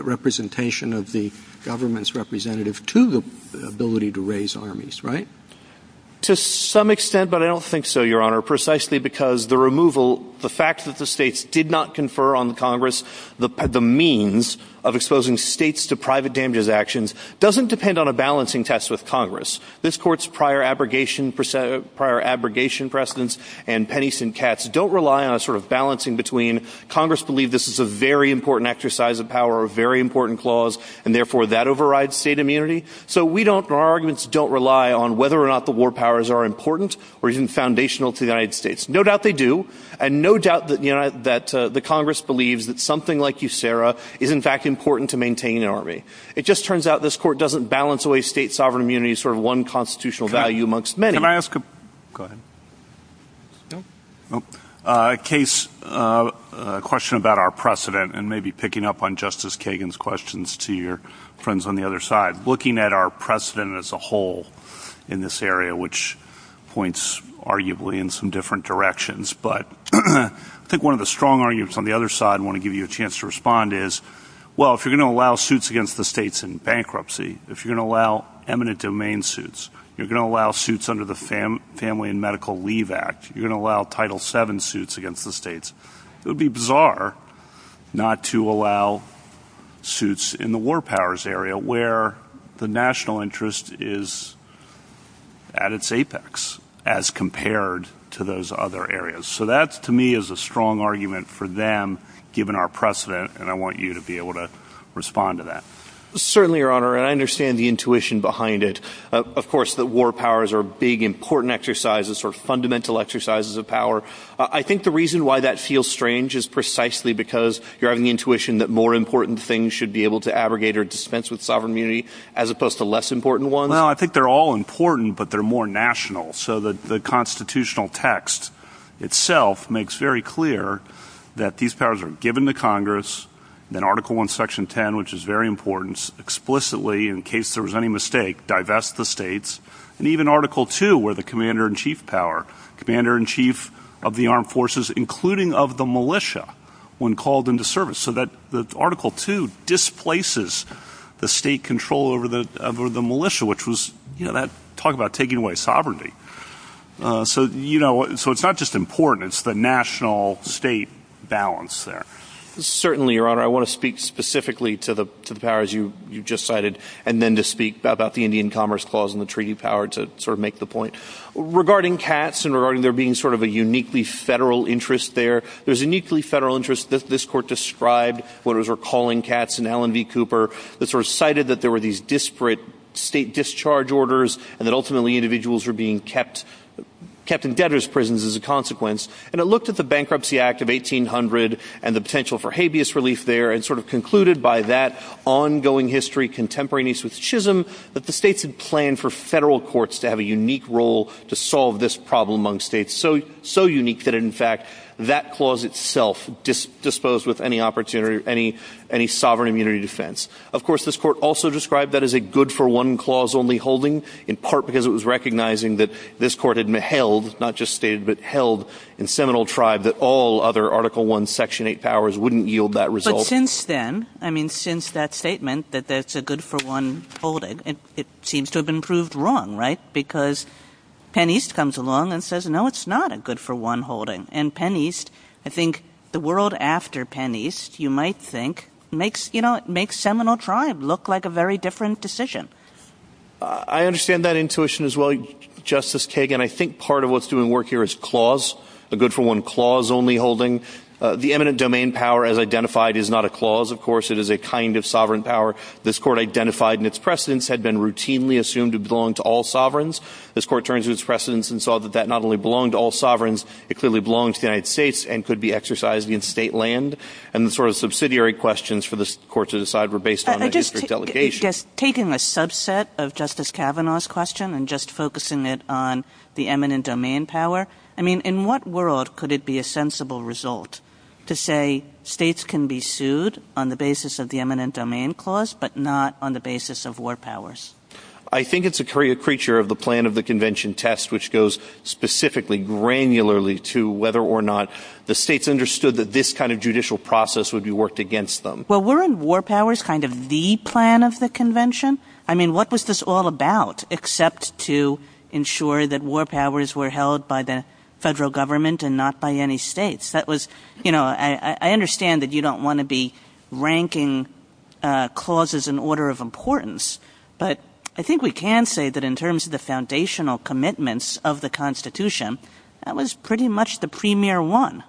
representation of the government's representative to the ability to raise armies, right? To some extent, but I don't think so, Your Honor, precisely because the removal, the fact that the states did not confer on Congress the means of exposing states to private damages actions doesn't depend on a balancing test with Congress. This Court's prior abrogation precedents and pennies and cats don't rely on a sort of balancing between Congress believes this is a very important exercise of power, a very important clause, and therefore that overrides state immunity. So we don't... Our arguments don't rely on whether or not the war powers are important or even foundational to the United States. No doubt they do, and no doubt that the Congress believes that something like USARA is in fact important to maintain an army. It just turns out this Court doesn't balance away state sovereign immunity as sort of one constitutional value amongst many. Can I ask a... Go ahead. No? A case, a question about our precedent, and maybe picking up on Justice Kagan's questions to your friends on the other side. Looking at our precedent as a whole in this area, which points arguably in some different directions, but I think one of the strong arguments on the other side I want to give you a chance to respond is, well, if you're going to allow suits against the states in bankruptcy, if you're going to allow eminent domain suits, you're going to allow suits under the Family and Medical Leave Act, you're going to allow Title VII suits against the states. It would be bizarre not to allow suits in the war powers area where the national interest is at its apex as compared to those other areas. So that, to me, is a strong argument for them, given our precedent, and I want you to be able to respond to that. Certainly, Your Honor, and I understand the intuition behind it. Of course, the war powers are big, important exercises or fundamental exercises of power. I think the reason why that feels strange is precisely because you're having the intuition that more important things should be able to abrogate or dispense with sovereign immunity as opposed to less important ones. No, I think they're all important, but they're more national. So the constitutional text itself makes very clear that these powers are given to Congress, then Article I, Section 10, which is very important, explicitly, in case there was any mistake, divest the states, and even Article II, where the commander-in-chief power, commander-in-chief of the armed forces, including of the militia, when called into service, so that Article II displaces the state control over the militia, which was, you know, talk about taking away sovereignty. So it's not just important, it's the national-state balance there. Certainly, Your Honor. I want to speak specifically to the powers you just cited and then to speak about the Indian Commerce Clause and the treaty power to sort of make the point. Regarding cats and regarding there being sort of a uniquely federal interest there, there's a uniquely federal interest. This Court described what it was recalling cats in Allen v. Cooper that sort of cited that there were these disparate state discharge orders and that ultimately individuals were being kept in debtors' prisons as a consequence. And it looked at the Bankruptcy Act of 1800 and the potential for habeas relief there and sort of concluded by that ongoing history contemporaneous with Chisholm that the states had planned for federal courts to have a unique role to solve this problem among states. So unique that, in fact, that clause itself disposed with any opportunity, any sovereign immunity defense. Of course, this Court also described that as a good-for-one clause only holding, in part because it was recognizing that this Court had held, not just stated, but held in Seminole Tribe that all other Article I Section 8 powers wouldn't yield that result. But since then, I mean, since that statement, that that's a good-for-one holding, it seems to have been proved wrong, right? Because Penn East comes along and says, no, it's not a good-for-one holding. And Penn East, I think the world after Penn East, you might think, makes Seminole Tribe look like a very different decision. I understand that intuition as well, Justice Kagan. I think part of what's doing work here is clause, a good-for-one clause only holding. The eminent domain power as identified is not a clause, of course. It is a kind of sovereign power. This Court identified in its precedents had been routinely assumed to belong to all sovereigns. This Court turned to its precedents and saw that that not only belonged to all sovereigns, it clearly belonged to the United States and could be exercised in state land. And the sort of subsidiary questions for this Court to decide were based on the district delegation. Just taking a subset of Justice Kavanaugh's question and just focusing it on the eminent domain power, I mean, in what world could it be a sensible result to say states can be sued on the basis of the eminent domain clause but not on the basis of war powers? I think it's a creature of the plan of the convention test which goes specifically granularly to whether or not the states understood that this kind of judicial process would be worked against them. Well, weren't war powers kind of the plan of the convention? I mean, what was this all about except to ensure that war powers were held by the federal government and not by any states? That was, you know, I understand that you don't want to be ranking clauses in order of importance, but I think we can say that in terms of the foundational commitments of the Constitution, that was pretty much the premier one.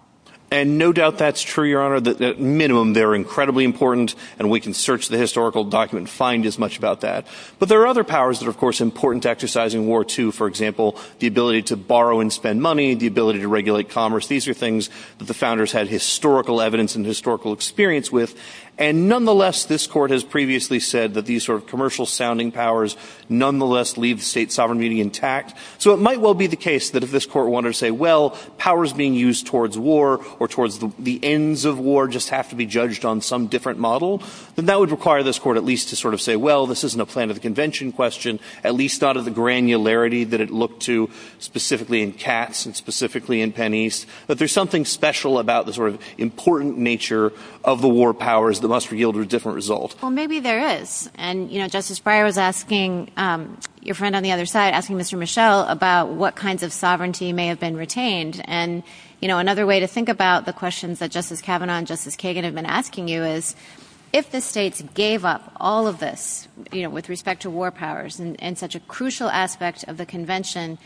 And no doubt that's true, Your Honor. At minimum, they're incredibly important and we can search the historical document and find as much about that. But there are other powers that are, of course, important to exercise in World War II. For example, the ability to borrow and spend money, the ability to regulate commerce. These are things that the founders had historical evidence and historical experience with. And nonetheless, this Court has previously said that these sort of commercial-sounding powers nonetheless leave the state sovereign meaning intact. So it might well be the case that if this Court wanted to say, well, powers being used towards war or towards the ends of war just have to be judged on some different model, that that would require this Court at least to sort of say, well, this isn't a plan of the convention question, at least out of the granularity that it looked to specifically in Katz and specifically in Penn East. But there's something special about the sort of important nature of the war powers that must yield a different result. Well, maybe there is. And Justice Breyer was asking your friend on the other side, asking Mr. Michel about what kinds of sovereignty may have been retained. And another way to think about the questions that Justice Kavanaugh and Justice Kagan have been asking you is, if the states gave up all of this with respect to war powers and such a crucial aspect of the convention,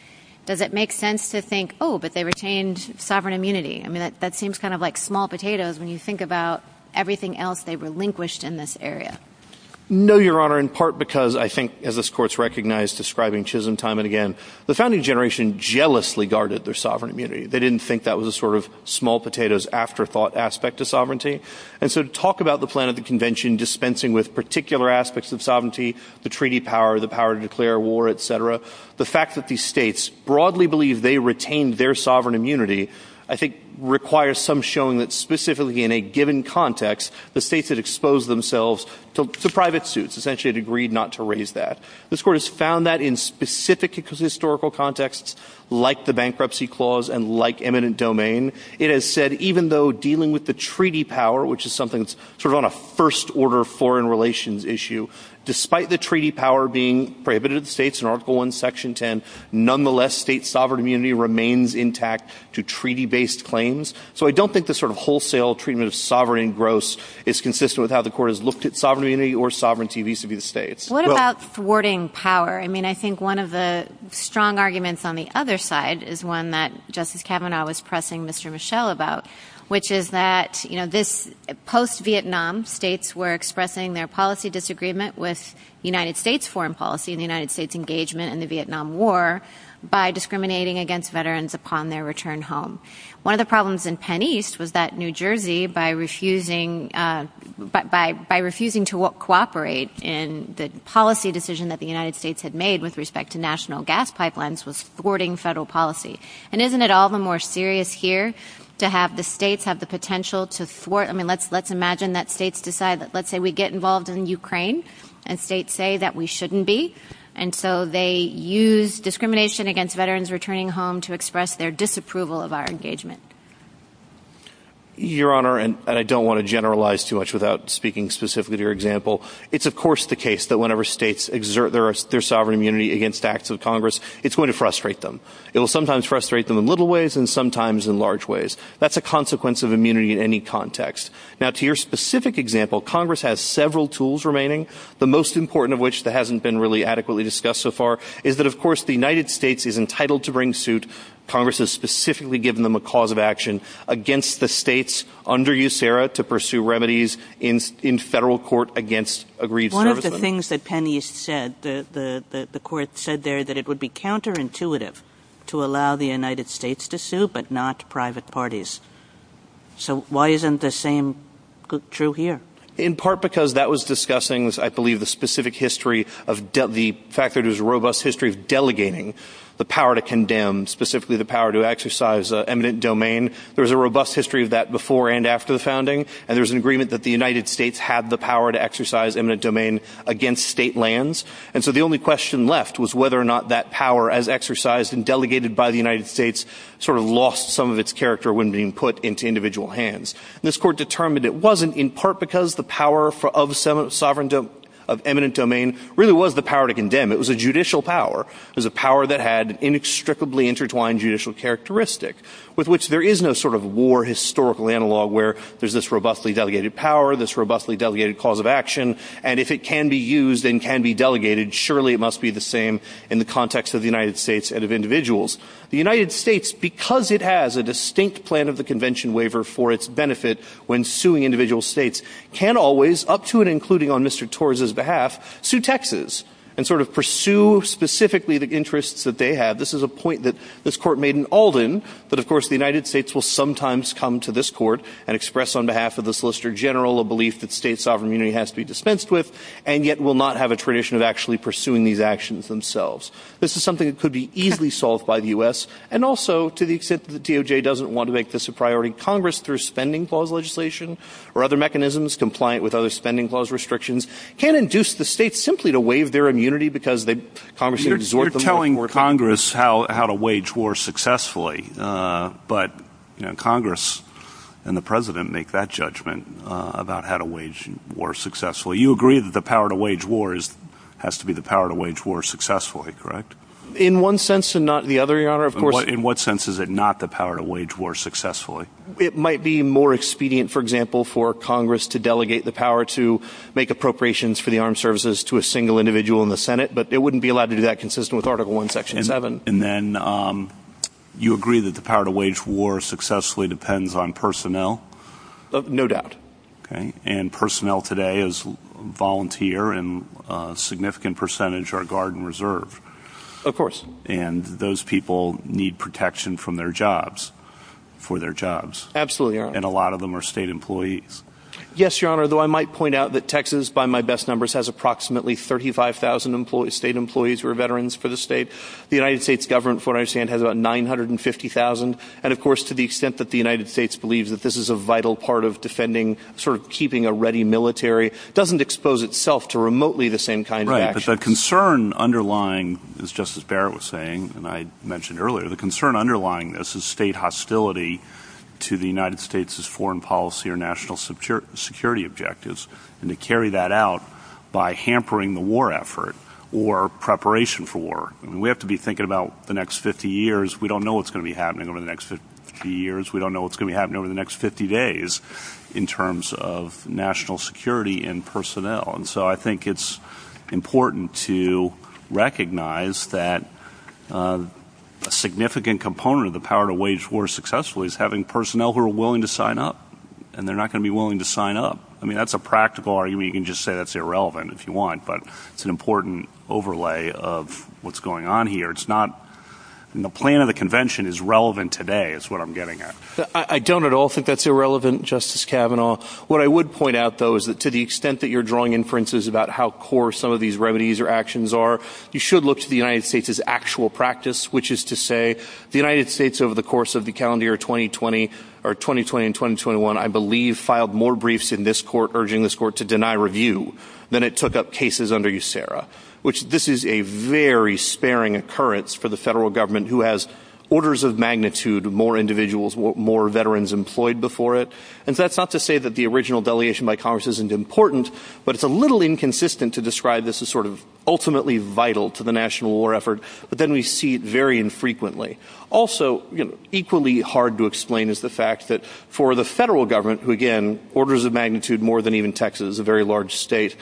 does it make sense to think, oh, but they retained sovereign immunity. I mean, that seems kind of like small potatoes when you think about everything else they relinquished in this area. No, Your Honor, in part because I think, as this Court's recognized describing Chisholm time and again, the founding generation jealously guarded their sovereign immunity. They didn't think that was a sort of small potatoes afterthought aspect of sovereignty. And so to talk about the plan of the convention dispensing with particular aspects of sovereignty, the treaty power, the power to declare war, et cetera, the fact that these states broadly believe they retained their sovereign immunity, I think requires some showing that specifically in a given context, the states had exposed themselves to private suits, essentially had agreed not to raise that. This Court has found that in specific historical contexts, like the bankruptcy clause and like eminent domain, it has said even though dealing with the treaty power, which is something that's sort of on a first order foreign relations issue, despite the treaty power being prohibited to the states in Article I, Section 10, nonetheless state sovereign immunity remains intact to treaty-based claims. So I don't think the sort of wholesale treatment of sovereign engross is consistent with how the Court has looked at sovereign immunity or sovereignty vis-a-vis the states. What about thwarting power? I mean, I think one of the strong arguments on the other side is one that Justice Kavanaugh was pressing Mr. Michel about, which is that this post-Vietnam states were expressing their policy disagreement with United States foreign policy and the United States engagement in the Vietnam War by discriminating against veterans upon their return home. One of the problems in Penn East was that New Jersey, by refusing to cooperate in the policy decision that the United States had made with respect to national gas pipelines was thwarting federal policy. And isn't it all the more serious here to have the states have the potential to thwart? I mean, let's imagine that states decide that, let's say, we get involved in Ukraine and states say that we shouldn't be, and so they use discrimination against veterans returning home to express their disapproval of our engagement. Your Honor, and I don't want to generalize too much without speaking specifically to your example, it's of course the case that whenever states exert their sovereign immunity against acts of Congress, it's going to frustrate them. It will sometimes frustrate them in little ways and sometimes in large ways. That's a consequence of immunity in any context. Now to your specific example, Congress has several tools remaining, the most important of which that hasn't been really adequately discussed so far, is that of course the United States is entitled to bring suit. Congress has specifically given them a cause of action against the states under USERRA to pursue remedies in federal court against aggrieved servicemen. One of the things that Penny said, the court said there that it would be counterintuitive to allow the United States to sue but not private parties. So why isn't the same true here? In part because that was discussing, I believe, the specific history of the fact that it was a robust history of delegating the power to condemn, specifically the power to exercise eminent domain. There was a robust history of that before and after the founding, and there was an agreement that the United States had the power to exercise eminent domain against state lands. So the only question left was whether or not that power as exercised and delegated by the United States sort of lost some of its character when being put into individual hands. This court determined it wasn't in part because the power of eminent domain really was the power to condemn. It was a judicial power. It was a power that had an inextricably intertwined judicial characteristic with which there is no sort of war historical analog where there's this robustly delegated power, this robustly delegated cause of action, and if it can be used and can be delegated, surely it must be the same in the context of the United States and of individuals. The United States, because it has a distinct plan of the convention waiver for its benefit when suing individual states, can always, up to and including on Mr. Torres' behalf, sue Texas and sort of pursue specifically the interests that they have. This is a point that this court made in Alden, but of course the United States will sometimes come to this court and express on behalf of the Solicitor General a belief that state sovereign immunity has to be dispensed with and yet will not have a tradition of actually pursuing these actions themselves. This is something that could be easily solved by the U.S. and also, to the extent that the DOJ doesn't want to make this a priority, Congress, through spending clause legislation or other mechanisms compliant with other spending clause restrictions, can induce the states simply to waive their immunity because Congress has absorbed them. You're telling Congress how to wage war successfully, but Congress and the President make that judgment about how to wage war successfully. You agree that the power to wage war has to be the power to wage war successfully, correct? In one sense and not the other, Your Honor. In what sense is it not the power to wage war successfully? It might be more expedient, for example, for Congress to delegate the power to make appropriations for the armed services to a single individual in the Senate, but it wouldn't be allowed to do that consistent with Article I, Section 7. And then you agree that the power to wage war successfully depends on personnel? No doubt. And personnel today is volunteer and a significant percentage are Guard and Reserve. Of course. And those people need protection from their jobs, for their jobs. Absolutely, Your Honor. And a lot of them are state employees. Yes, Your Honor, though I might point out that Texas, by my best numbers, has approximately 35,000 state employees who are veterans for the state. The United States government, from what I understand, has about 950,000. And, of course, to the extent that the United States believes that this is a vital part of defending, sort of keeping a ready military, doesn't expose itself to remotely the same kind of action. Right, but the concern underlying, as Justice Barrett was saying and I mentioned earlier, the concern underlying this is state hostility to the United States' foreign policy or national security objectives and to carry that out by hampering the war effort or preparation for war. We have to be thinking about the next 50 years. We don't know what's going to be happening over the next 50 years. We don't know what's going to be happening over the next 50 days in terms of national security and personnel. And so I think it's important to recognize that a significant component of the power to wage war successfully is having personnel who are willing to sign up, and they're not going to be willing to sign up. I mean, that's a practical argument. You can just say that's irrelevant if you want, but it's an important overlay of what's going on here. It's not in the plan of the convention is relevant today is what I'm getting at. I don't at all think that's irrelevant, Justice Kavanaugh. What I would point out, though, is that to the extent that you're drawing inferences about how core some of these remedies or actions are, you should look to the United States' actual practice, which is to say the United States over the course of the calendar year 2020 or 2020 and 2021, I believe, filed more briefs in this court urging this court to deny review than it took up cases under USERRA, which this is a very sparing occurrence for the federal government who has orders of magnitude more individuals, more veterans employed before it. And that's not to say that the original delegation by Congress isn't important, but it's a little inconsistent to describe this as sort of ultimately vital to the national war effort, but then we see it very infrequently. Also, equally hard to explain is the fact that for the federal government, who, again, orders of magnitude more than even Texas, a very large state.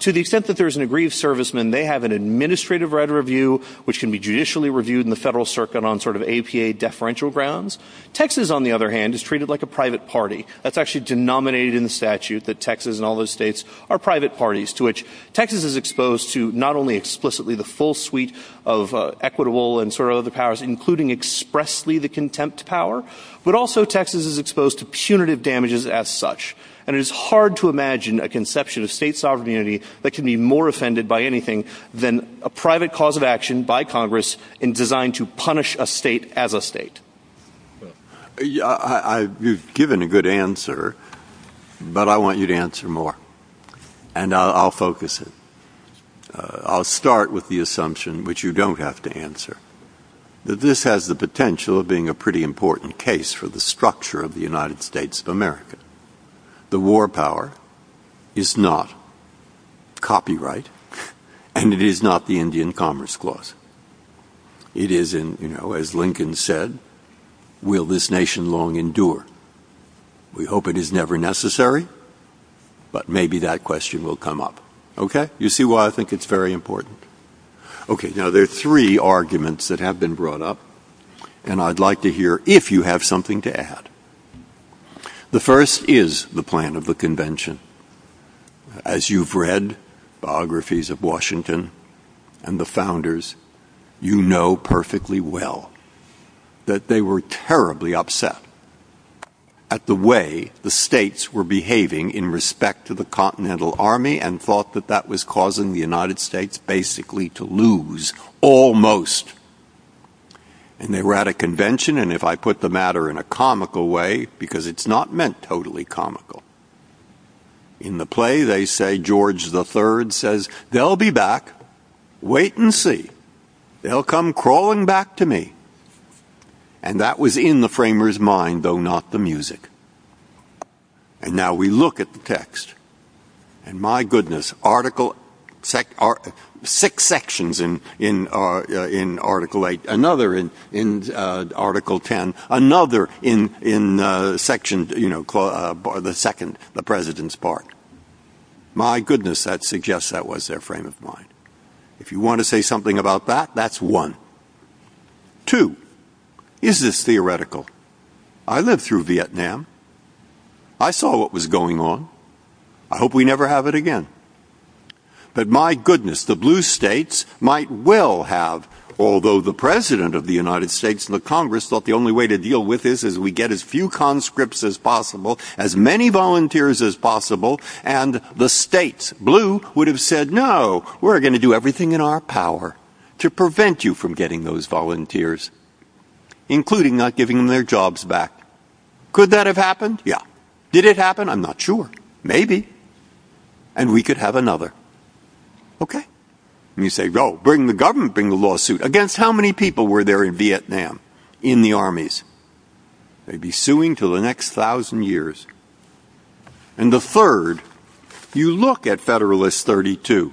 To the extent that there is an aggrieved serviceman, they have an administrative right of review, which can be judicially reviewed in the federal circuit on sort of APA deferential grounds. Texas, on the other hand, is treated like a private party. That's actually denominated in the statute that Texas and all those states are private parties, to which Texas is exposed to not only explicitly the full suite of equitable and sort of other powers, including expressly the contempt power, but also Texas is exposed to punitive damages as such. And it is hard to imagine a conception of state sovereignty that can be more offended by anything than a private cause of action by Congress and designed to punish a state as a state. You've given a good answer, but I want you to answer more, and I'll focus it. I'll start with the assumption, which you don't have to answer, that this has the potential of being a pretty important case for the structure of the United States of America. The war power is not copyright, and it is not the Indian Commerce Clause. It is, as Lincoln said, will this nation long endure? We hope it is never necessary, but maybe that question will come up. Okay? You see why I think it's very important. Okay, now there are three arguments that have been brought up, and I'd like to hear if you have something to add. The first is the plan of the convention. As you've read biographies of Washington and the founders, you know perfectly well that they were terribly upset at the way the states were behaving in respect to the Continental Army and thought that that was causing the United States basically to lose, almost. And they were at a convention, and if I put the matter in a comical way, because it's not meant totally comical, in the play they say George III says, they'll be back, wait and see. They'll come crawling back to me. And that was in the framers' mind, though not the music. And now we look at the text, and my goodness, six sections in Article VIII, another in Article X, another in the second, the President's part. My goodness, that suggests that was their framers' mind. If you want to say something about that, that's one. Two, is this theoretical? I lived through Vietnam. I saw what was going on. I hope we never have it again. But my goodness, the blue states might well have, although the President of the United States and the Congress thought the only way to deal with this is we get as few conscripts as possible, as many volunteers as possible, and the states, blue, would have said, no, we're going to do everything in our power to prevent you from getting those volunteers, including not giving them their jobs back. Could that have happened? Yeah. Did it happen? I'm not sure. Maybe. And we could have another. And you say, go, bring the government, bring the lawsuit. Against how many people were there in Vietnam, in the armies? They'd be suing for the next thousand years. And the third, you look at Federalist 32,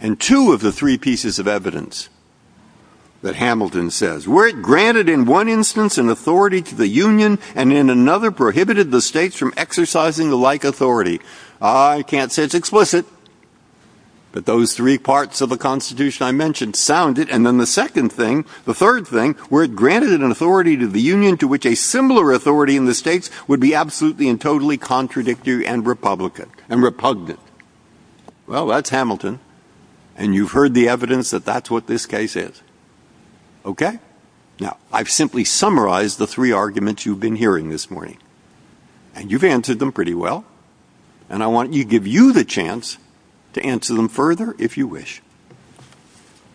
and two of the three pieces of evidence that Hamilton says, were it granted in one instance an authority to the Union, and in another prohibited the states from exercising the like authority. I can't say it's explicit, but those three parts of the Constitution I mentioned sound it. And then the second thing, the third thing, were it granted an authority to the Union to which a similar authority in the states would be absolutely and totally contradictory and repugnant. Well, that's Hamilton. And you've heard the evidence that that's what this case is. Okay? Now, I've simply summarized the three arguments you've been hearing this morning. And you've answered them pretty well. And I want to give you the chance to answer them further, if you wish.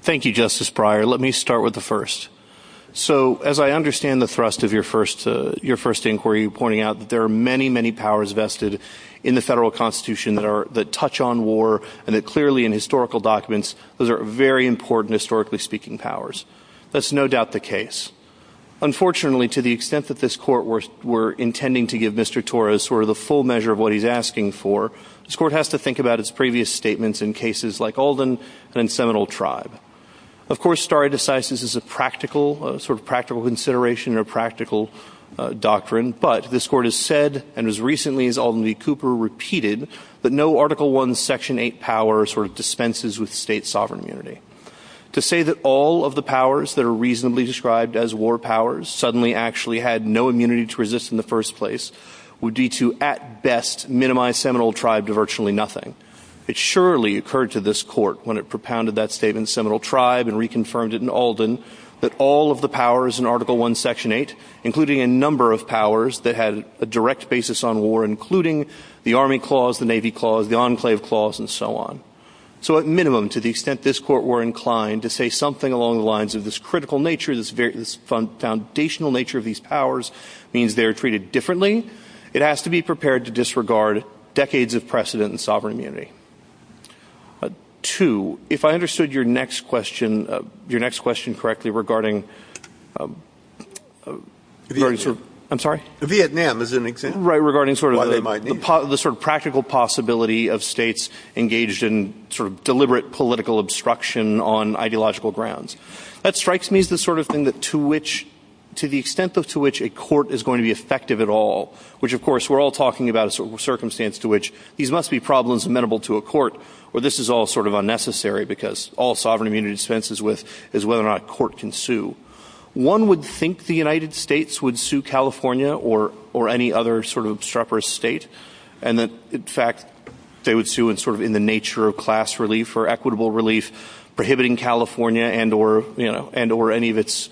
Thank you, Justice Breyer. Let me start with the first. So, as I understand the thrust of your first inquiry, pointing out that there are many, many powers vested in the Federal Constitution that touch on war, and that clearly in historical documents, those are very important, historically speaking, powers. That's no doubt the case. Unfortunately, to the extent that this Court were intending to give Mr. Torres sort of the full measure of what he's asking for, this Court has to think about its previous statements in cases like Alden and Seminole Tribe. Of course, stare decisis is a practical, sort of practical consideration or practical doctrine. But this Court has said, and as recently as Alden v. Cooper repeated, that no Article I, Section 8 power sort of dispenses with state sovereign immunity. To say that all of the powers that are reasonably described as war powers suddenly actually had no immunity to resist in the first place would be to, at best, minimize Seminole Tribe to virtually nothing. It surely occurred to this Court when it propounded that statement in Seminole Tribe and reconfirmed it in Alden, that all of the powers in Article I, Section 8, including a number of powers that had a direct basis on war, including the Army Clause, the Navy Clause, the Enclave Clause, and so on. So at minimum, to the extent this Court were inclined to say something along the lines of this critical nature, this foundational nature of these powers, means they are treated differently. It has to be prepared to disregard decades of precedent in sovereign immunity. Two, if I understood your next question correctly regarding the practical possibility of states engaged in deliberate political obstruction on ideological grounds, that strikes me as the sort of thing to the extent to which a Court is going to be effective at all, which of course we're all talking about a circumstance to which these must be problems that are presentable to a Court, where this is all sort of unnecessary because all sovereign immunity dispenses with is whether or not a Court can sue. One would think the United States would sue California or any other sort of obstreperous state, and that, in fact, they would sue in the nature of class relief or equitable relief, prohibiting California and or any of its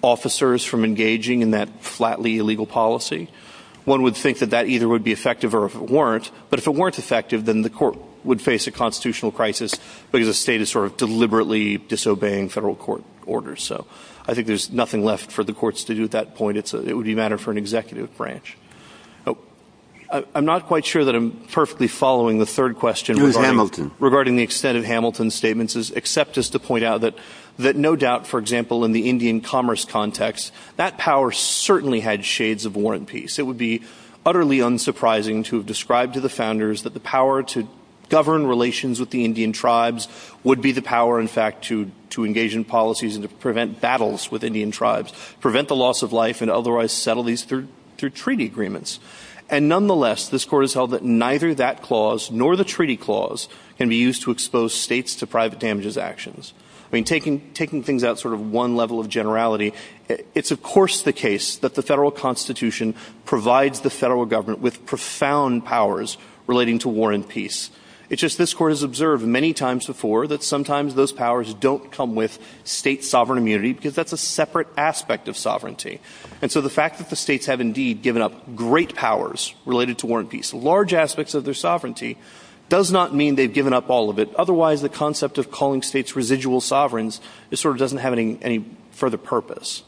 officers from engaging in that flatly illegal policy. One would think that that either would be effective or if it weren't, but if it weren't effective, then the Court would face a constitutional crisis because the state is sort of deliberately disobeying federal court orders. So I think there's nothing left for the courts to do at that point. It would be a matter for an executive branch. I'm not quite sure that I'm perfectly following the third question regarding the extent of Hamilton's statements, except just to point out that no doubt, for example, in the Indian commerce context, that power certainly had shades of war and peace. It would be utterly unsurprising to have described to the founders that the power to govern relations with the Indian tribes would be the power, in fact, to engage in policies and to prevent battles with Indian tribes, prevent the loss of life and otherwise settle these through treaty agreements. And nonetheless, this Court has held that neither that clause nor the treaty clause can be used to expose states to private damages actions. I mean, taking things out sort of one level of generality, it's of course the case that the federal constitution provides the federal government with profound powers relating to war and peace. It's just this Court has observed many times before that sometimes those powers don't come with state sovereign immunity because that's a separate aspect of sovereignty. And so the fact that the states have indeed given up great powers related to war and peace, large aspects of their sovereignty, does not mean they've given up all of it. Otherwise, the concept of calling states residual sovereigns sort of doesn't have any further purpose.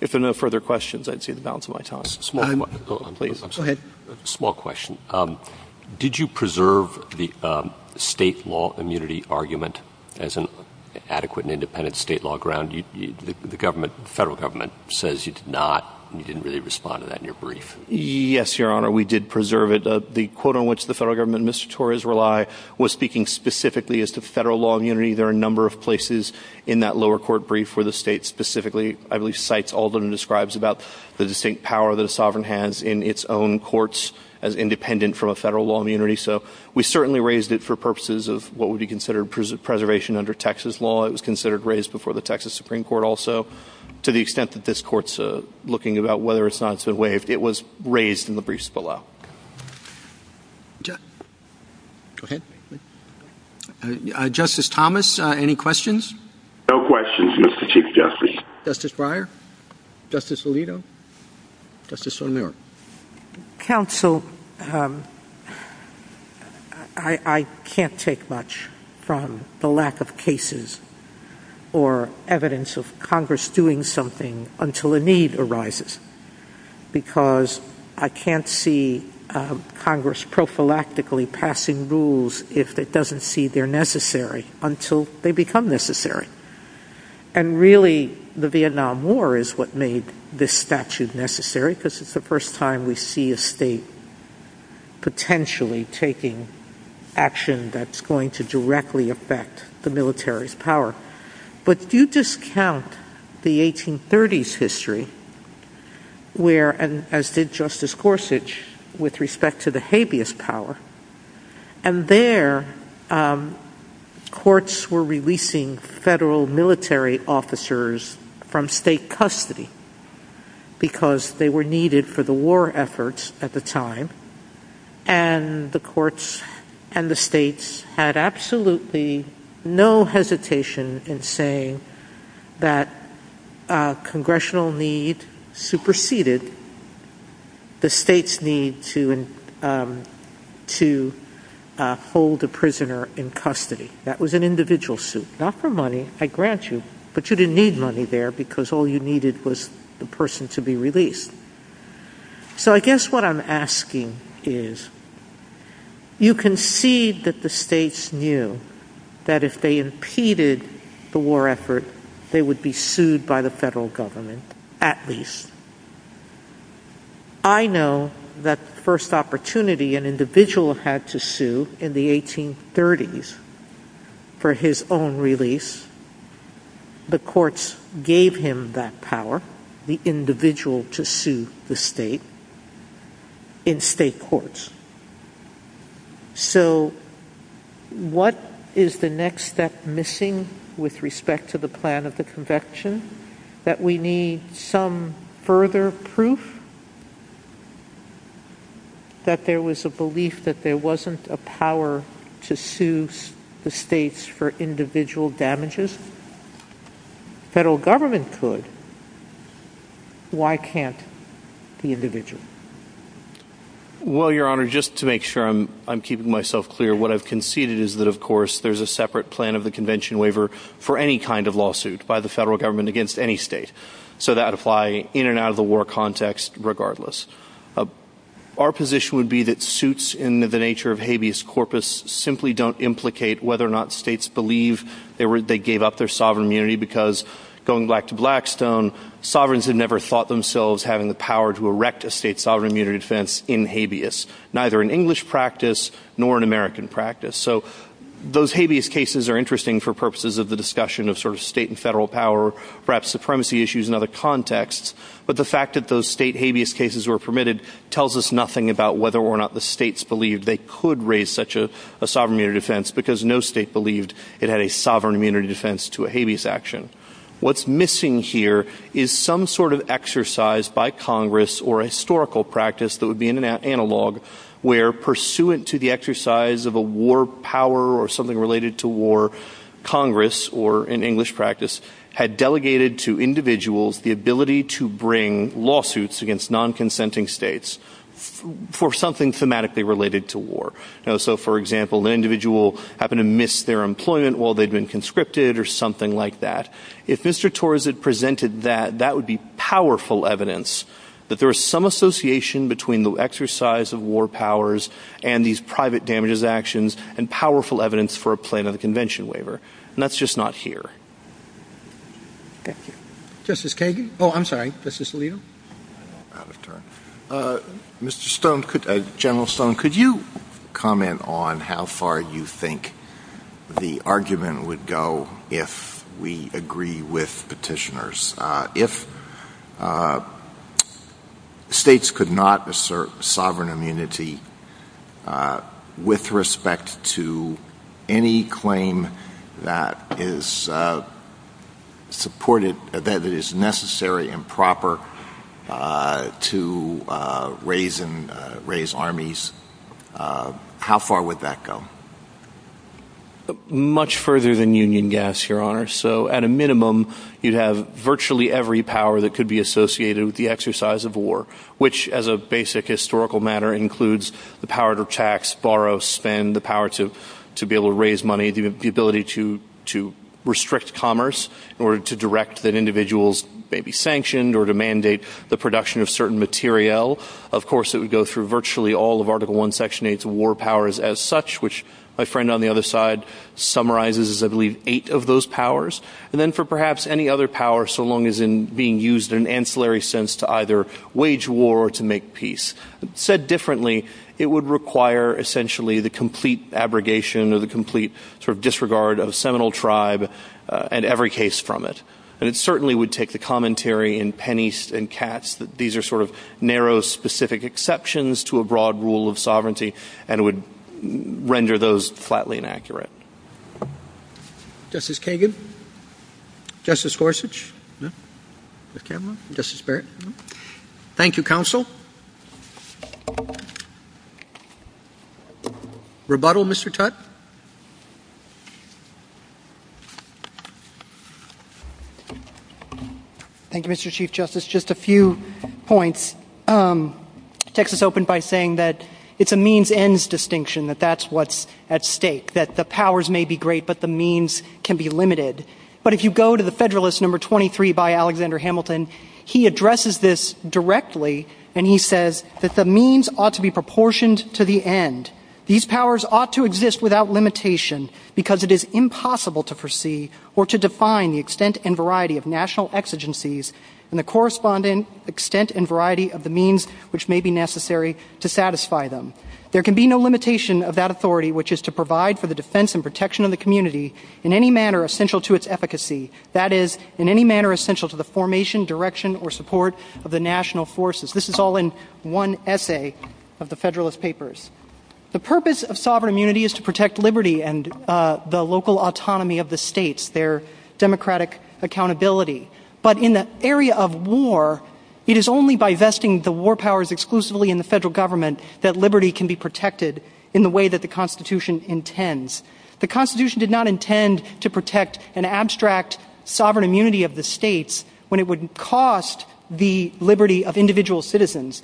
If there are no further questions, I'd see the balance of my time. Small question. Did you preserve the state law immunity argument as an adequate and independent state law ground? The federal government says you did not. You didn't really respond to that in your brief. Yes, Your Honor, we did preserve it. The quote on which the federal government and Mr. Torres rely was speaking specifically as to federal law immunity. There are a number of places in that lower court brief where the state specifically, I believe, cites Alden and describes about the distinct power that a sovereign has in its own courts as independent from a federal law immunity. So we certainly raised it for purposes of what would be considered preservation under Texas law. It was considered raised before the Texas Supreme Court also to the extent that this Court's looking about whether or not it's a way if it was raised in the briefs below. Justice Thomas, any questions? No questions, Mr. Chief Justice. Justice Breyer, Justice Alito, Justice O'Neill. Counsel, I can't take much from the lack of cases or evidence of Congress doing something until a need arises because I can't see Congress prophylactically passing rules if it doesn't see they're necessary until they become necessary. And really, the Vietnam War is what made this statute necessary because it's the first time we see a state potentially taking action that's going to directly affect the military's power. But do you discount the 1830s history where, and as did Justice Gorsuch with respect to the habeas power, and there courts were releasing federal military officers from state custody because they were needed for the war efforts at the time and the courts and the states had absolutely no hesitation in saying that congressional need superseded the state's need to hold a prisoner in custody. That was an individual suit, not for money. I grant you, but you didn't need money there because all you needed was the person to be released. So I guess what I'm asking is, you can see that the states knew that if they impeded the war effort, they would be sued by the federal government at least. I know that the first opportunity an individual had to sue in the 1830s for his own release, the courts gave him that power, the individual to sue the state in state courts. So what is the next step missing with respect to the plan of the conviction? That we need some further proof that there was a belief that there wasn't a power to sue the states for individual damages? If the federal government could, why can't the individual? Well, Your Honor, just to make sure I'm keeping myself clear, what I've conceded is that of course there's a separate plan of the convention waiver for any kind of lawsuit by the federal government against any state. So that would apply in and out of the war context regardless. Our position would be that suits in the nature of habeas corpus simply don't implicate whether or not states believe they gave up their sovereign immunity because going back to Blackstone, sovereigns had never thought themselves having the power to erect a state sovereign immunity defense in habeas, neither in English practice nor in American practice. So those habeas cases are interesting for purposes of the discussion of sort of state and federal power, perhaps supremacy issues in other contexts, but the fact that those state habeas cases were permitted tells us nothing about whether or not the states believed they could raise such a sovereign immunity defense because no state believed it had a sovereign immunity defense to a habeas action. What's missing here is some sort of exercise by Congress or historical practice that would be in an analog where pursuant to the exercise of a war power or something related to war, Congress, or in English practice, had delegated to individuals the ability to bring lawsuits against non-consenting states for something thematically related to war. So for example, an individual happened to miss their employment while they'd been conscripted or something like that. If Mr. Torres had presented that, that would be powerful evidence that there is some association between the exercise of war powers and these private damages actions and powerful evidence for a plaintiff convention waiver, and that's just not here. Justice Kagan? Oh, I'm sorry, Justice Alito? Mr. Stone, General Stone, could you comment on how far you think the argument would go if we agree with petitioners? If states could not assert sovereign immunity with respect to any claim that is supported, that is necessary and proper to raise armies, how far would that go? Much further than union gas, Your Honor. So at a minimum, you'd have virtually every power that could be associated with the exercise of war, which as a basic historical matter includes the power to tax, borrow, spend, the power to be able to raise money, the ability to restrict commerce in order to direct that individuals may be sanctioned or to mandate the production of certain materiel. Of course, it would go through virtually all of Article I, Section 8's war powers as such, which my friend on the other side summarizes, I believe, eight of those powers. And then for perhaps any other power, so long as it's being used in an ancillary sense to either wage war or to make peace. Said differently, it would require essentially the complete abrogation or the complete sort of disregard of a seminal tribe and every case from it. And it certainly would take the commentary in Penny and Katz that these are sort of narrow specific exceptions to a broad rule of sovereignty and would render those flatly inaccurate. Justice Kagan? Justice Forsage? Justice Campbell? Justice Barrett? No. Thank you, Counsel. Justice? Rebuttal, Mr. Tutte? Thank you, Mr. Chief Justice. Just a few points. Texas opened by saying that it's a means-ends distinction, that that's what's at stake, that the powers may be great but the means can be limited. But if you go to the Federalist No. 23 by Alexander Hamilton, he addresses this directly and he says that the means ought to be proportioned to the end. These powers ought to exist without limitation because it is impossible to foresee or to define the extent and variety of national exigencies and the corresponding extent and variety of the means which may be necessary to satisfy them. There can be no limitation of that authority, which is to provide for the defense and protection of the community in any manner essential to its efficacy. That is, in any manner essential to the formation, direction, or support of the national forces. This is all in one essay of the Federalist Papers. The purpose of sovereign immunity is to protect liberty and the local autonomy of the states, their democratic accountability. But in the area of war, it is only by vesting the war powers exclusively in the federal government that liberty can be protected in the way that the Constitution intends. The Constitution did not intend to protect an abstract sovereign immunity of the states when it would cost the liberty of individual citizens.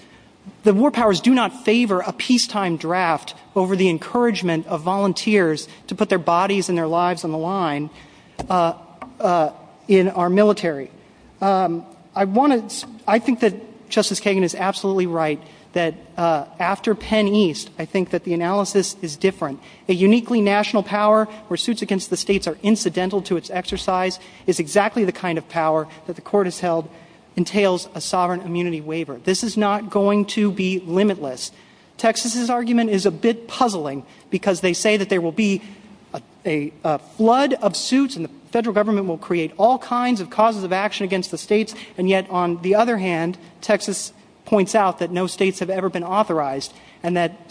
The war powers do not favor a peacetime draft over the encouragement of volunteers to put their bodies and their lives on the line in our military. I think that Justice Kagan is absolutely right that after Penn East, I think that the analysis is different. A uniquely national power where suits against the states are incidental to its exercise is exactly the kind of power that the Court has held entails a sovereign immunity waiver. This is not going to be limitless. Texas's argument is a bit puzzling because they say that there will be a flood of suits and the federal government will create all kinds of causes of action against the states, and yet on the other hand, Texas points out that no states have ever been authorized and that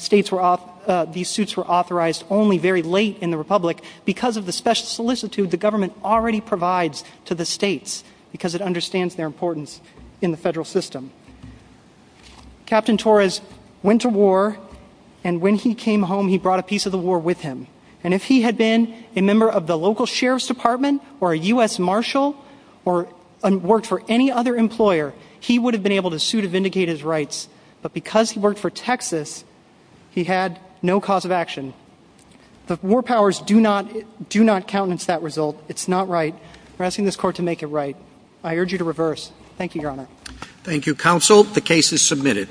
these suits were authorized only very late in the Republic. Because of the special solicitude the government already provides to the states because it understands their importance in the federal system. Captain Torres went to war, and when he came home he brought a piece of the war with him. And if he had been a member of the local sheriff's department or a U.S. marshal or worked for any other employer, he would have been able to sue to vindicate his rights. But because he worked for Texas, he had no cause of action. War powers do not countenance that result. It's not right. I'm asking this Court to make it right. I urge you to reverse. Thank you, Your Honor. Thank you, Counsel. The case is submitted.